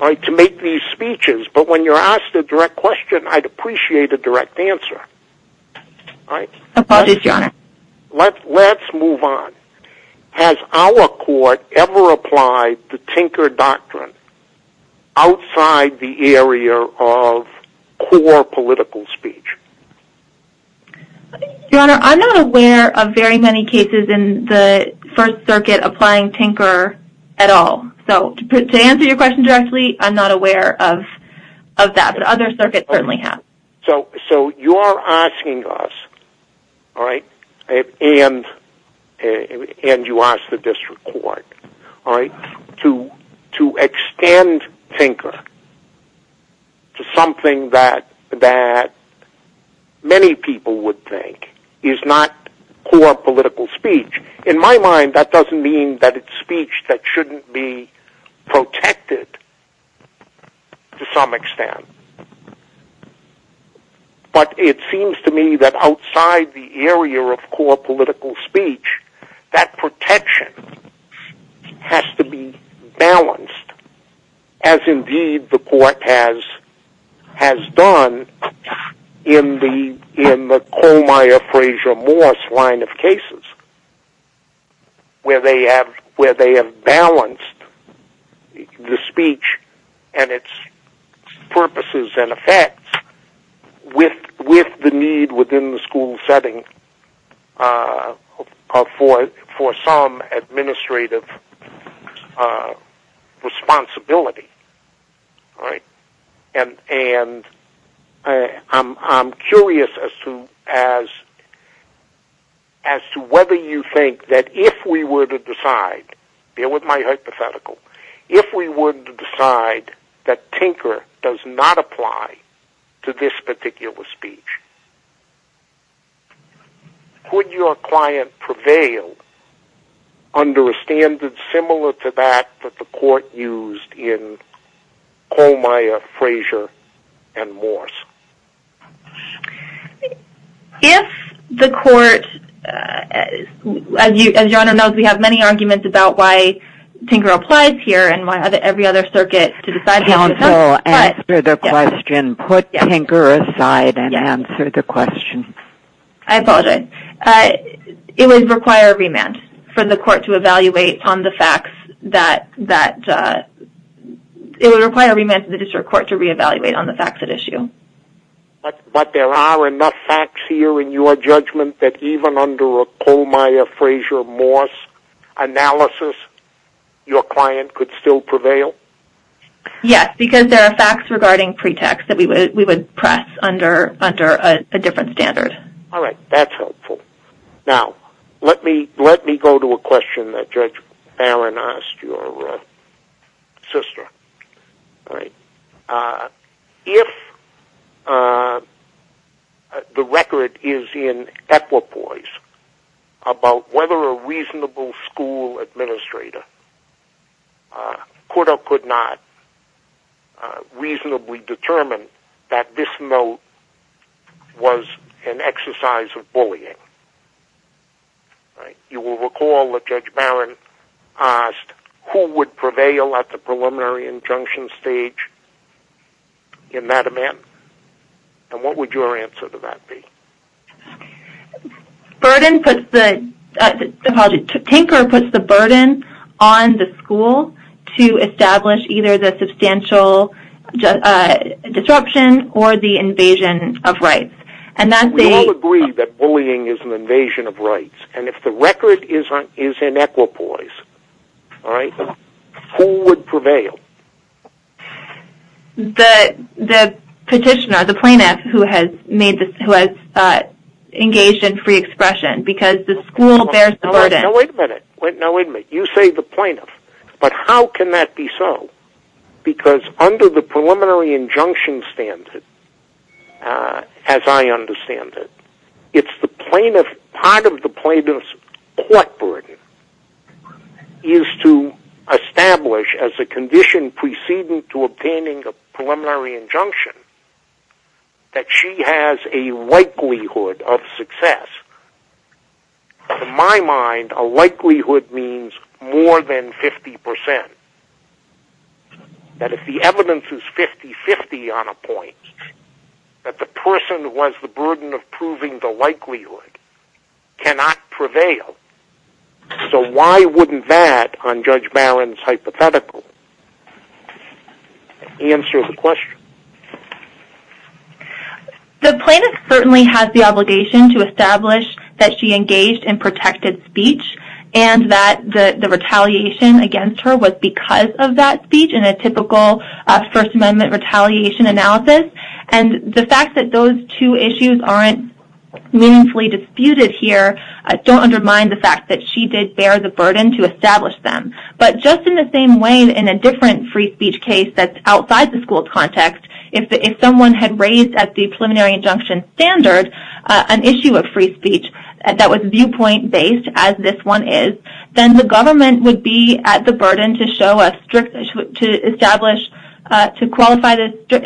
to make these speeches, but when you're asked a direct question, I'd appreciate a direct answer. Apologies, Your Honor. Let's move on. Has our court ever applied the Tinker Doctrine outside the area of core political speech? Your Honor, I'm not aware of very many cases in the First Circuit applying Tinker at all. So, to answer your question directly, I'm not aware of that. But other circuits certainly have. So, you're asking us, and you asked the district court, to extend Tinker to something that many people would think is not core political speech. In my mind, that doesn't mean that it's speech that shouldn't be protected to some extent. But it seems to me that outside the area of core political speech, that protection has to be balanced, as indeed the court has done in the Colmeyer-Fraser-Morse line of cases, where they have balanced the speech and its purposes and effects with the need within the school setting for some administrative responsibility. And I'm curious as to whether you think that if we were to decide, if we were to decide that Tinker does not apply to this particular speech, would your client prevail under a standard similar to that that the court used in Colmeyer-Fraser-Morse? If the court, as your Honor knows, we have many arguments about why Tinker applies here and why every other circuit to decide that. Counsel, answer the question. Put Tinker aside and answer the question. I apologize. It would require a remand from the court to evaluate on the facts that, it would require a remand from the district court to reevaluate on the facts at issue. But there are enough facts here in your judgment that even under a Colmeyer-Fraser-Morse analysis, your client could still prevail? Yes, because there are facts regarding pretext that we would press under a different standard. All right. That's helpful. Now, let me go to a question that Judge Barron asked your sister. If the record is in equipoise about whether a reasonable school administrator could or could not reasonably determine that this note was an exercise of bullying, you will recall that Judge Barron asked, who would prevail at the preliminary injunction stage in that event? And what would your answer to that be? Tinker puts the burden on the school to establish either the substantial disruption or the invasion of rights. We all agree that bullying is an invasion of rights. And if the record is in equipoise, who would prevail? The petitioner, the plaintiff, who has engaged in free expression because the school bears the burden. Wait a minute. You say the plaintiff. But how can that be so? Because under the preliminary injunction standard, as I understand it, part of the plaintiff's court burden is to establish, as a condition preceding to obtaining the preliminary injunction, that she has a likelihood of success. And in my mind, a likelihood means more than 50%. That if the evidence is 50-50 on a point, that the person who has the burden of proving the likelihood cannot prevail. So why wouldn't that, on Judge Barron's hypothetical, answer the question? The plaintiff certainly has the obligation to establish that she engaged in protected speech and that the retaliation against her was because of that speech in a typical First Amendment retaliation analysis. And the fact that those two issues aren't meaningfully disputed here don't undermine the fact that she did bear the burden to establish them. But just in the same way, in a different free speech case that's outside the school context, if someone had raised at the preliminary injunction standard an issue of free speech that was viewpoint-based, as this one is, then the government would be at the burden to establish, to qualify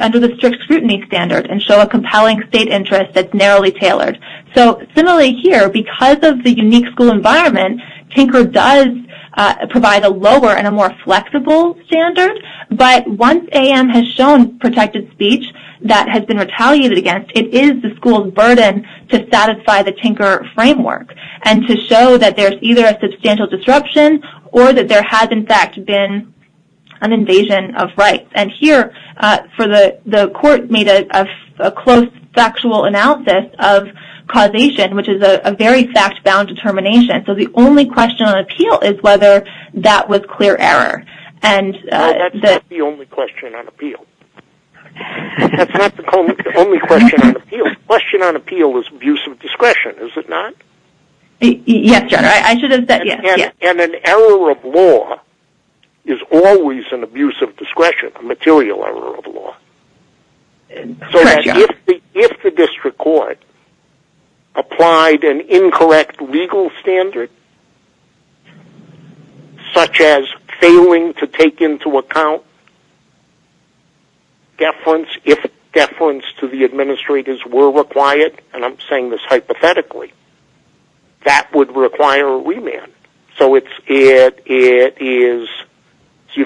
under the strict scrutiny standard and show a compelling state interest that's narrowly tailored. So similarly here, because of the unique school environment, Tinker does provide a lower and a more flexible standard. But once A.M. has shown protected speech that has been retaliated against, it is the school's burden to satisfy the Tinker framework and to show that there's either a substantial disruption or that there has in fact been an invasion of rights. And here, the court made a close factual analysis of causation, which is a very fact-bound determination. So the only question on appeal is whether that was clear error. Well, that's not the only question on appeal. That's not the only question on appeal. The question on appeal is abuse of discretion, is it not? Yes, John. And an error of law is always an abuse of discretion, a material error of law. So if the district court applied an incorrect legal standard, such as failing to take into account deference, if deference to the administrators were required, and I'm saying this hypothetically, that would require a remand. So you've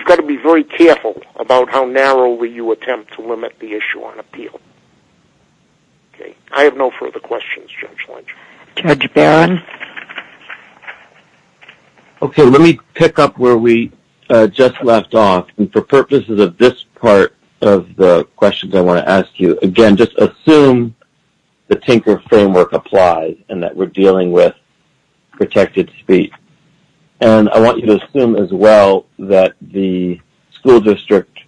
got to be very careful about how narrowly you attempt to limit the issue on appeal. I have no further questions, Judge Lynch. Judge Barron? Okay, let me pick up where we just left off. And for purposes of this part of the questions I want to ask you, again, just assume the Tinker framework applies and that we're dealing with protected speech. And I want you to assume as well that the school district,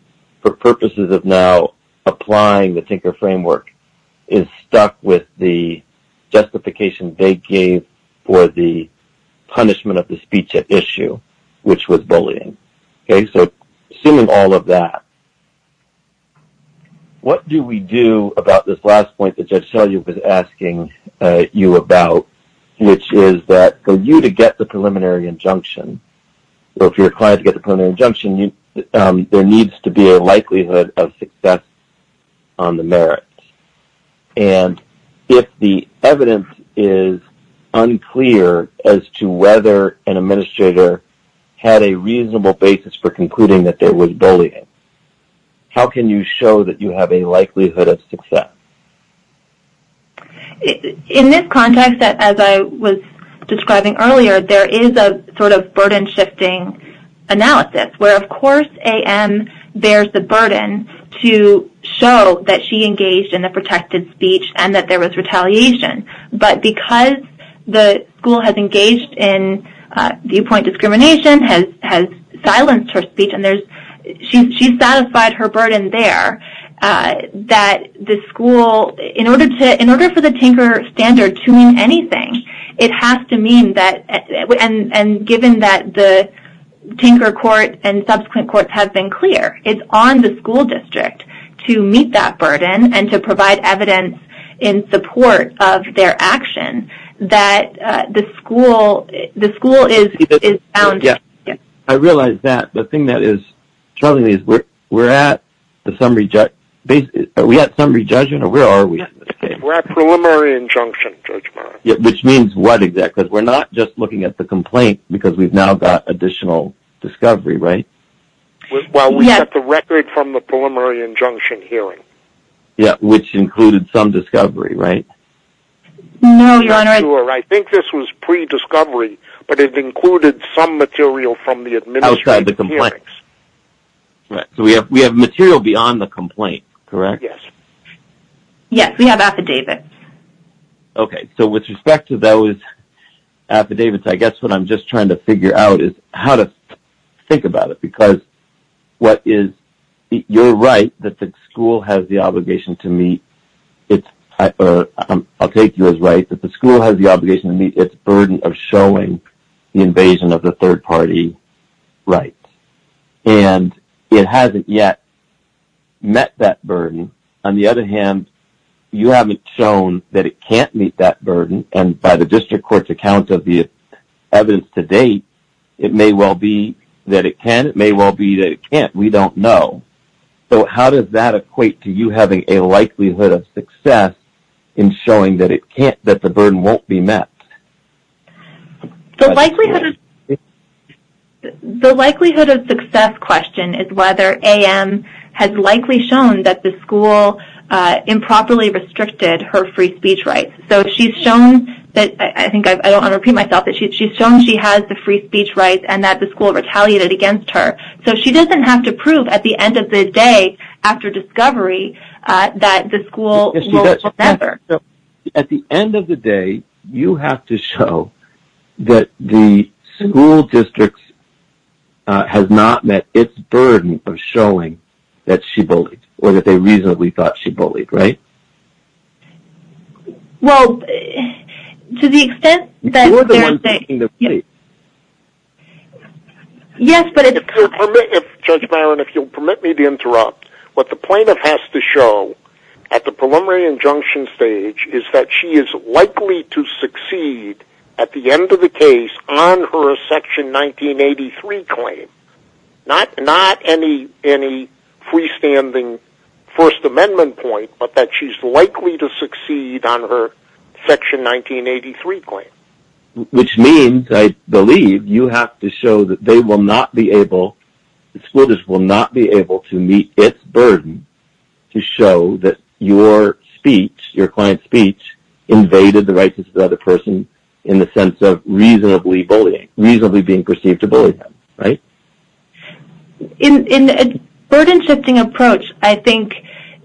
for purposes of now applying the Tinker framework, is stuck with the justification they gave for the punishment of the speech at issue, which was bullying. Okay, so assuming all of that, what do we do about this last point that Judge Selye was asking you about, which is that for you to get the preliminary injunction, or if you're required to get the preliminary injunction, there needs to be a likelihood of success on the merits. And if the evidence is unclear as to whether an administrator had a reasonable basis for concluding that there was bullying, how can you show that you have a likelihood of success? In this context, as I was describing earlier, there is a sort of burden-shifting analysis, where, of course, A.M. bears the burden to show that she engaged in a protected speech and that there was retaliation. But because the school has engaged in viewpoint discrimination, has silenced her speech, and she satisfied her burden there, that the school, in order for the Tinker standard to mean anything, it has to mean that, and given that the Tinker court and subsequent courts have been clear, it's on the school district to meet that burden and to provide evidence in support of their action, that the school is bound. I realize that. The thing that is troubling me is we're at the summary judgment. Are we at summary judgment, or where are we? We're at preliminary injunction judgment. Which means what exactly? Because we're not just looking at the complaint because we've now got additional discovery, right? Well, we have the record from the preliminary injunction hearing. Yeah, which included some discovery, right? No, Your Honor. I think this was pre-discovery, but it included some material from the administrative hearings. Outside the complaint. Right. So we have material beyond the complaint, correct? Yes. Yes, we have affidavits. Okay. So with respect to those affidavits, I guess what I'm just trying to figure out is how to think about it. Because what is, you're right that the school has the obligation to meet, or I'll take you as right, that the school has the obligation to meet its burden of showing the invasion of the third party rights. And it hasn't yet met that burden. On the other hand, you haven't shown that it can't meet that burden. And by the district court's account of the evidence to date, it may well be that it can. It may well be that it can't. We don't know. So how does that equate to you having a likelihood of success in showing that it can't, that the burden won't be met? The likelihood of success question is whether AM has likely shown that the school improperly restricted her free speech rights. So she's shown, I think I don't want to repeat myself, but she's shown she has the free speech rights and that the school retaliated against her. So she doesn't have to prove at the end of the day after discovery that the school will never. At the end of the day, you have to show that the school district has not met its burden of showing that she bullied, or that they reasonably thought she bullied, right? Well, to the extent that. Yes, but. Judge Byron, if you'll permit me to interrupt. What the plaintiff has to show at the preliminary injunction stage is that she is likely to succeed at the end of the case on her Section 1983 claim. Not any freestanding First Amendment point, but that she's likely to succeed on her Section 1983 claim. Which means, I believe, you have to show that the school district will not be able to meet its burden to show that your speech, your client's speech, invaded the rights of the other person in the sense of reasonably being perceived to bully them, right? In a burden-shifting approach, I think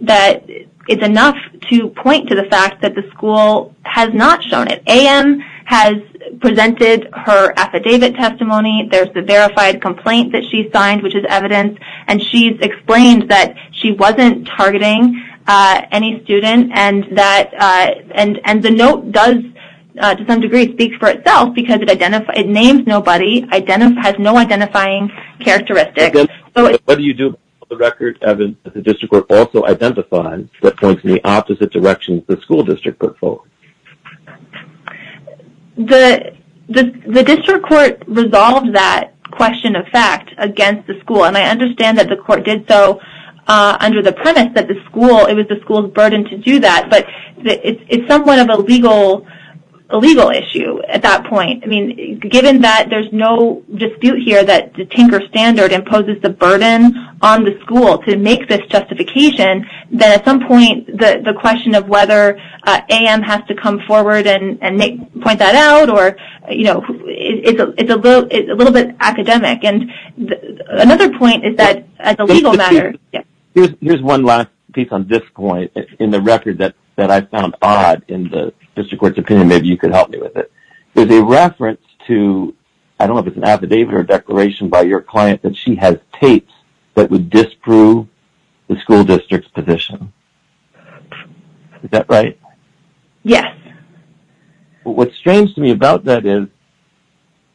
that it's enough to point to the fact that the school has not shown it. AM has presented her affidavit testimony. There's the verified complaint that she signed, which is evidence. And she's explained that she wasn't targeting any student. And the note does, to some degree, speak for itself, because it names nobody, has no identifying characteristics. What do you do about the record that the district court also identified that points in the opposite direction the school district put forth? The district court resolved that question of fact against the school. And I understand that the court did so under the premise that it was the school's burden to do that. But it's somewhat of a legal issue at that point. I mean, given that there's no dispute here that the Tinker Standard imposes the burden on the school to make this justification, that at some point the question of whether AM has to come forward and point that out or, you know, it's a little bit academic. And another point is that as a legal matter – Here's one last piece on this point in the record that I found odd in the district court's opinion. Maybe you could help me with it. There's a reference to – I don't know if it's an affidavit or a declaration by your client – that she has tapes that would disprove the school district's position. Is that right? Yes. What's strange to me about that is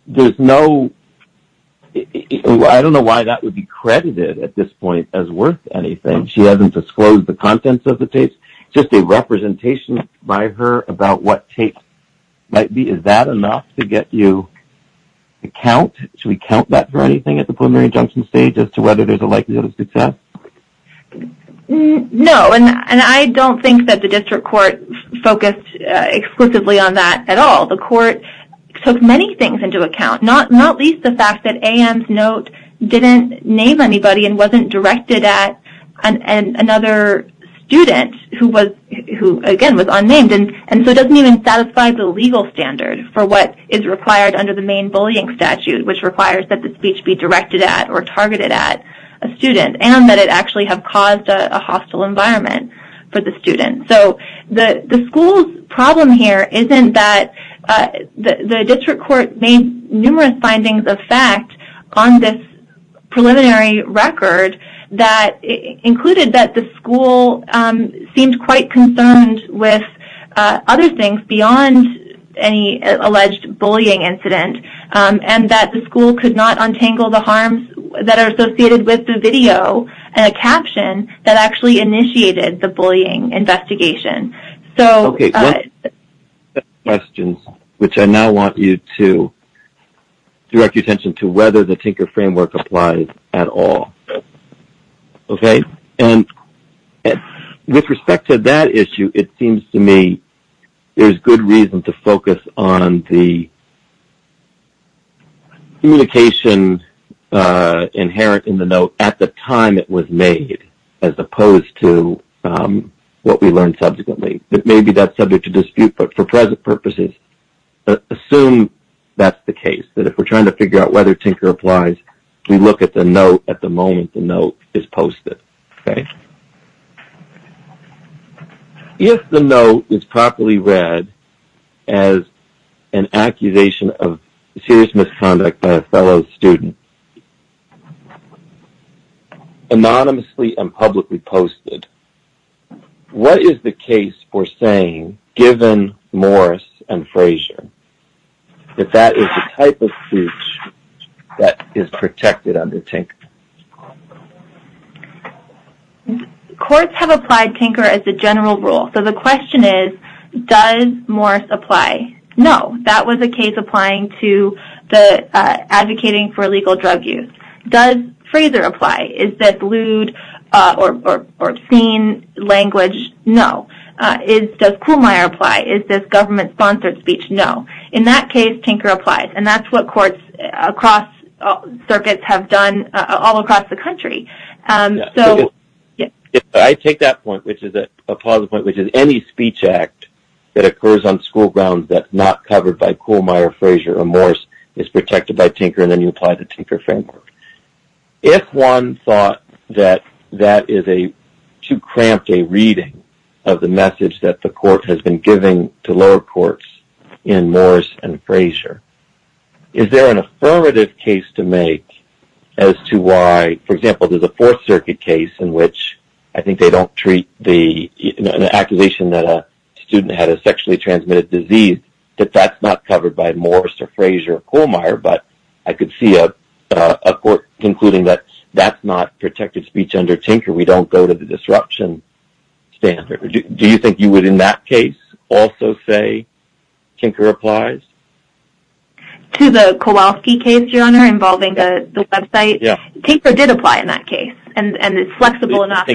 there's no – I don't know why that would be credited at this point as worth anything. She hasn't disclosed the contents of the tapes. Is this just a representation by her about what tapes might be? Is that enough to get you a count? Should we count that for anything at the preliminary injunction stage as to whether there's a likelihood of success? No, and I don't think that the district court focused exclusively on that at all. The court took many things into account, not least the fact that AM's note didn't name anybody and wasn't directed at another student who, again, was unnamed. And so it doesn't even satisfy the legal standard for what is required under the main bullying statute, which requires that the speech be directed at or targeted at a student and that it actually have caused a hostile environment for the student. So the school's problem here isn't that the district court named numerous findings of fact on this preliminary record that included that the school seemed quite concerned with other things beyond any alleged bullying incident and that the school could not untangle the harms that are associated with the video and a caption that actually initiated the bullying investigation. Okay. Questions, which I now want you to direct your attention to whether the Tinker framework applies at all. Okay. And with respect to that issue, it seems to me there's good reason to focus on the communication inherent in the note at the time it was made as opposed to what we learned subsequently. It may be that's subject to dispute, but for present purposes, assume that's the case, that if we're trying to figure out whether Tinker applies, we look at the note at the moment the note is posted. Okay. If the note is properly read as an accusation of serious misconduct by a fellow student, anonymously and publicly posted, what is the case for saying, given Morris and Frazier, that that is the type of speech that is protected under Tinker? Courts have applied Tinker as a general rule. So the question is, does Morris apply? No. That was a case applying to the advocating for illegal drug use. Does Frazier apply? Is this lewd or obscene language? No. Does Kuhlmeier apply? Is this government-sponsored speech? No. In that case, Tinker applies, and that's what courts across circuits have done all across the country. I take that point, which is a positive point, which is any speech act that occurs on school grounds that's not covered by Kuhlmeier, Frazier, or Morris is protected by Tinker, and then you apply the Tinker framework. If one thought that that is too cramped a reading of the message that the court has been giving to lower courts in Morris and Frazier, is there an affirmative case to make as to why, for example, there's a Fourth Circuit case in which I think they don't treat an accusation that a student had a sexually transmitted disease, that that's not covered by Morris or Frazier or Kuhlmeier, but I could see a court concluding that that's not protected speech under Tinker. We don't go to the disruption standard. Do you think you would in that case also say Tinker applies? To the Kowalski case, your Honor, involving the website? Yes. Tinker did apply in that case, and it's flexible enough.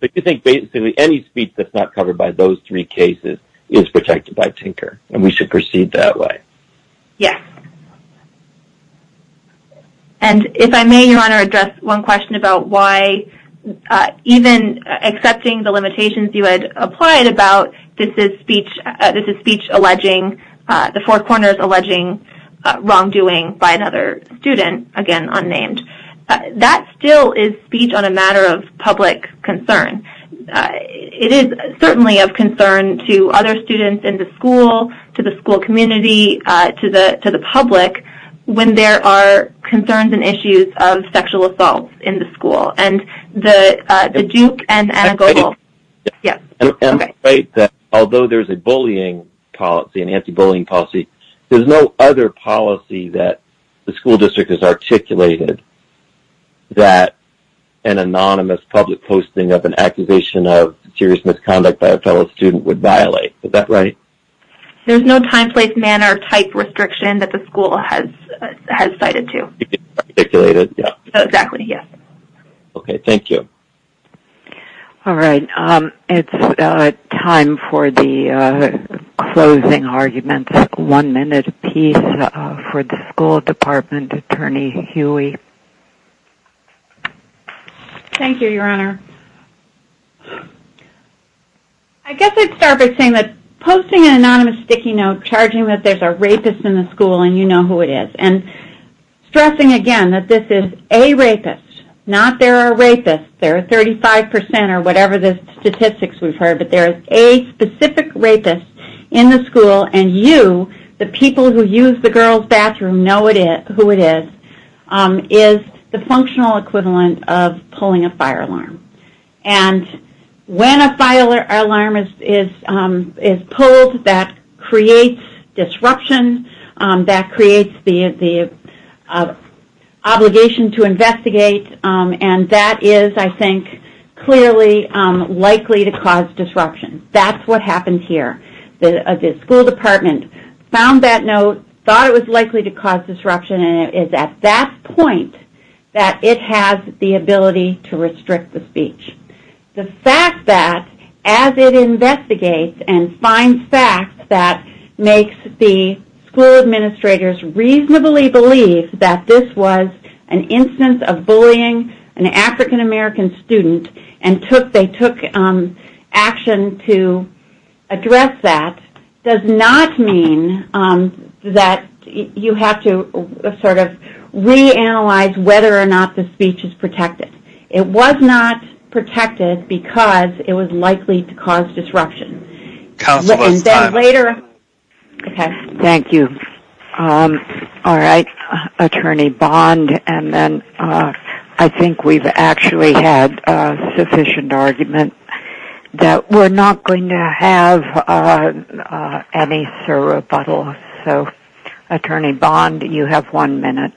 But you think basically any speech that's not covered by those three cases is protected by Tinker, and we should proceed that way? Yes. And if I may, Your Honor, address one question about why even accepting the limitations you had applied about this is speech alleging, the Four Corners alleging wrongdoing by another student, again unnamed, that still is speech on a matter of public concern. It is certainly of concern to other students in the school, to the school community, to the public, when there are concerns and issues of sexual assault in the school. And the Duke and Goebbels, yes. Although there's a bullying policy, an anti-bullying policy, there's no other policy that the school district has articulated that an anonymous public posting of an accusation of serious misconduct by a fellow student would violate. Is that right? There's no time, place, manner, type restriction that the school has cited to. It's articulated, yes. Exactly, yes. Okay. Thank you. All right. It's time for the closing arguments, one-minute piece for the school department attorney, Huey. Thank you, Your Honor. I guess I'd start by saying that posting an anonymous sticky note charging that there's a rapist in the school and you know who it is, and stressing again that this is a rapist, not there are rapists, there are 35% or whatever the statistics we've heard, but there's a specific rapist in the school and you, the people who use the girls' bathroom, know who it is, is the functional equivalent of pulling a fire alarm. And when a fire alarm is pulled, that creates disruption, that creates the obligation to investigate, and that is, I think, clearly likely to cause disruption. That's what happened here. The school department found that note, thought it was likely to cause disruption, and it is at that point that it has the ability to restrict the speech. The fact that as it investigates and finds fact that makes the school administrators reasonably believe that this was an instance of bullying, an African-American student, and they took action to address that, does not mean that you have to sort of reanalyze whether or not the speech is protected. It was not protected because it was likely to cause disruption. Thank you. All right. Attorney Bond, and then I think we've actually had sufficient argument that we're not going to have any further rebuttal. So, Attorney Bond, you have one minute.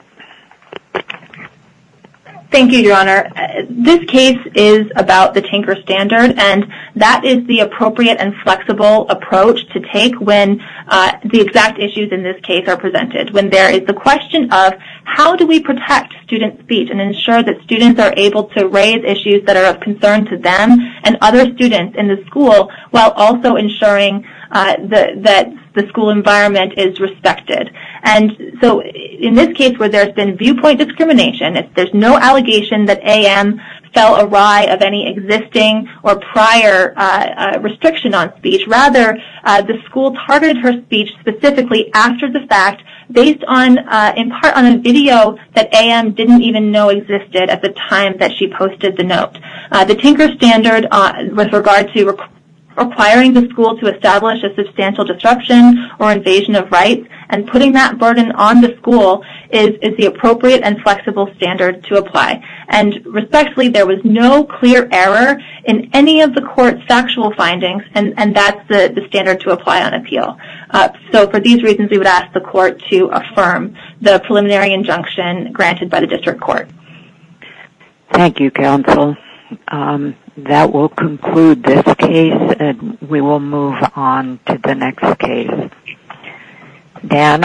Thank you, Your Honor. This case is about the Tinker Standard, and that is the appropriate and flexible approach to take when the exact issues in this case are presented, when there is the question of how do we protect student speech and ensure that students are able to raise issues that are of concern to them and other students in the school while also ensuring that the school environment is respected. And so in this case where there's been viewpoint discrimination, there's no allegation that AM fell awry of any existing or prior restriction on speech. Rather, the school targeted her speech specifically after the fact based in part on a video that AM didn't even know existed at the time that she posted the note. The Tinker Standard with regard to requiring the school to establish a substantial disruption or invasion of rights and putting that burden on the school is the appropriate and flexible standard to apply. And respectfully, there was no clear error in any of the court's factual findings, and that's the standard to apply on appeal. So for these reasons, we would ask the court to affirm the preliminary injunction granted by the district court. Thank you, counsel. That will conclude this case, and we will move on to the next case.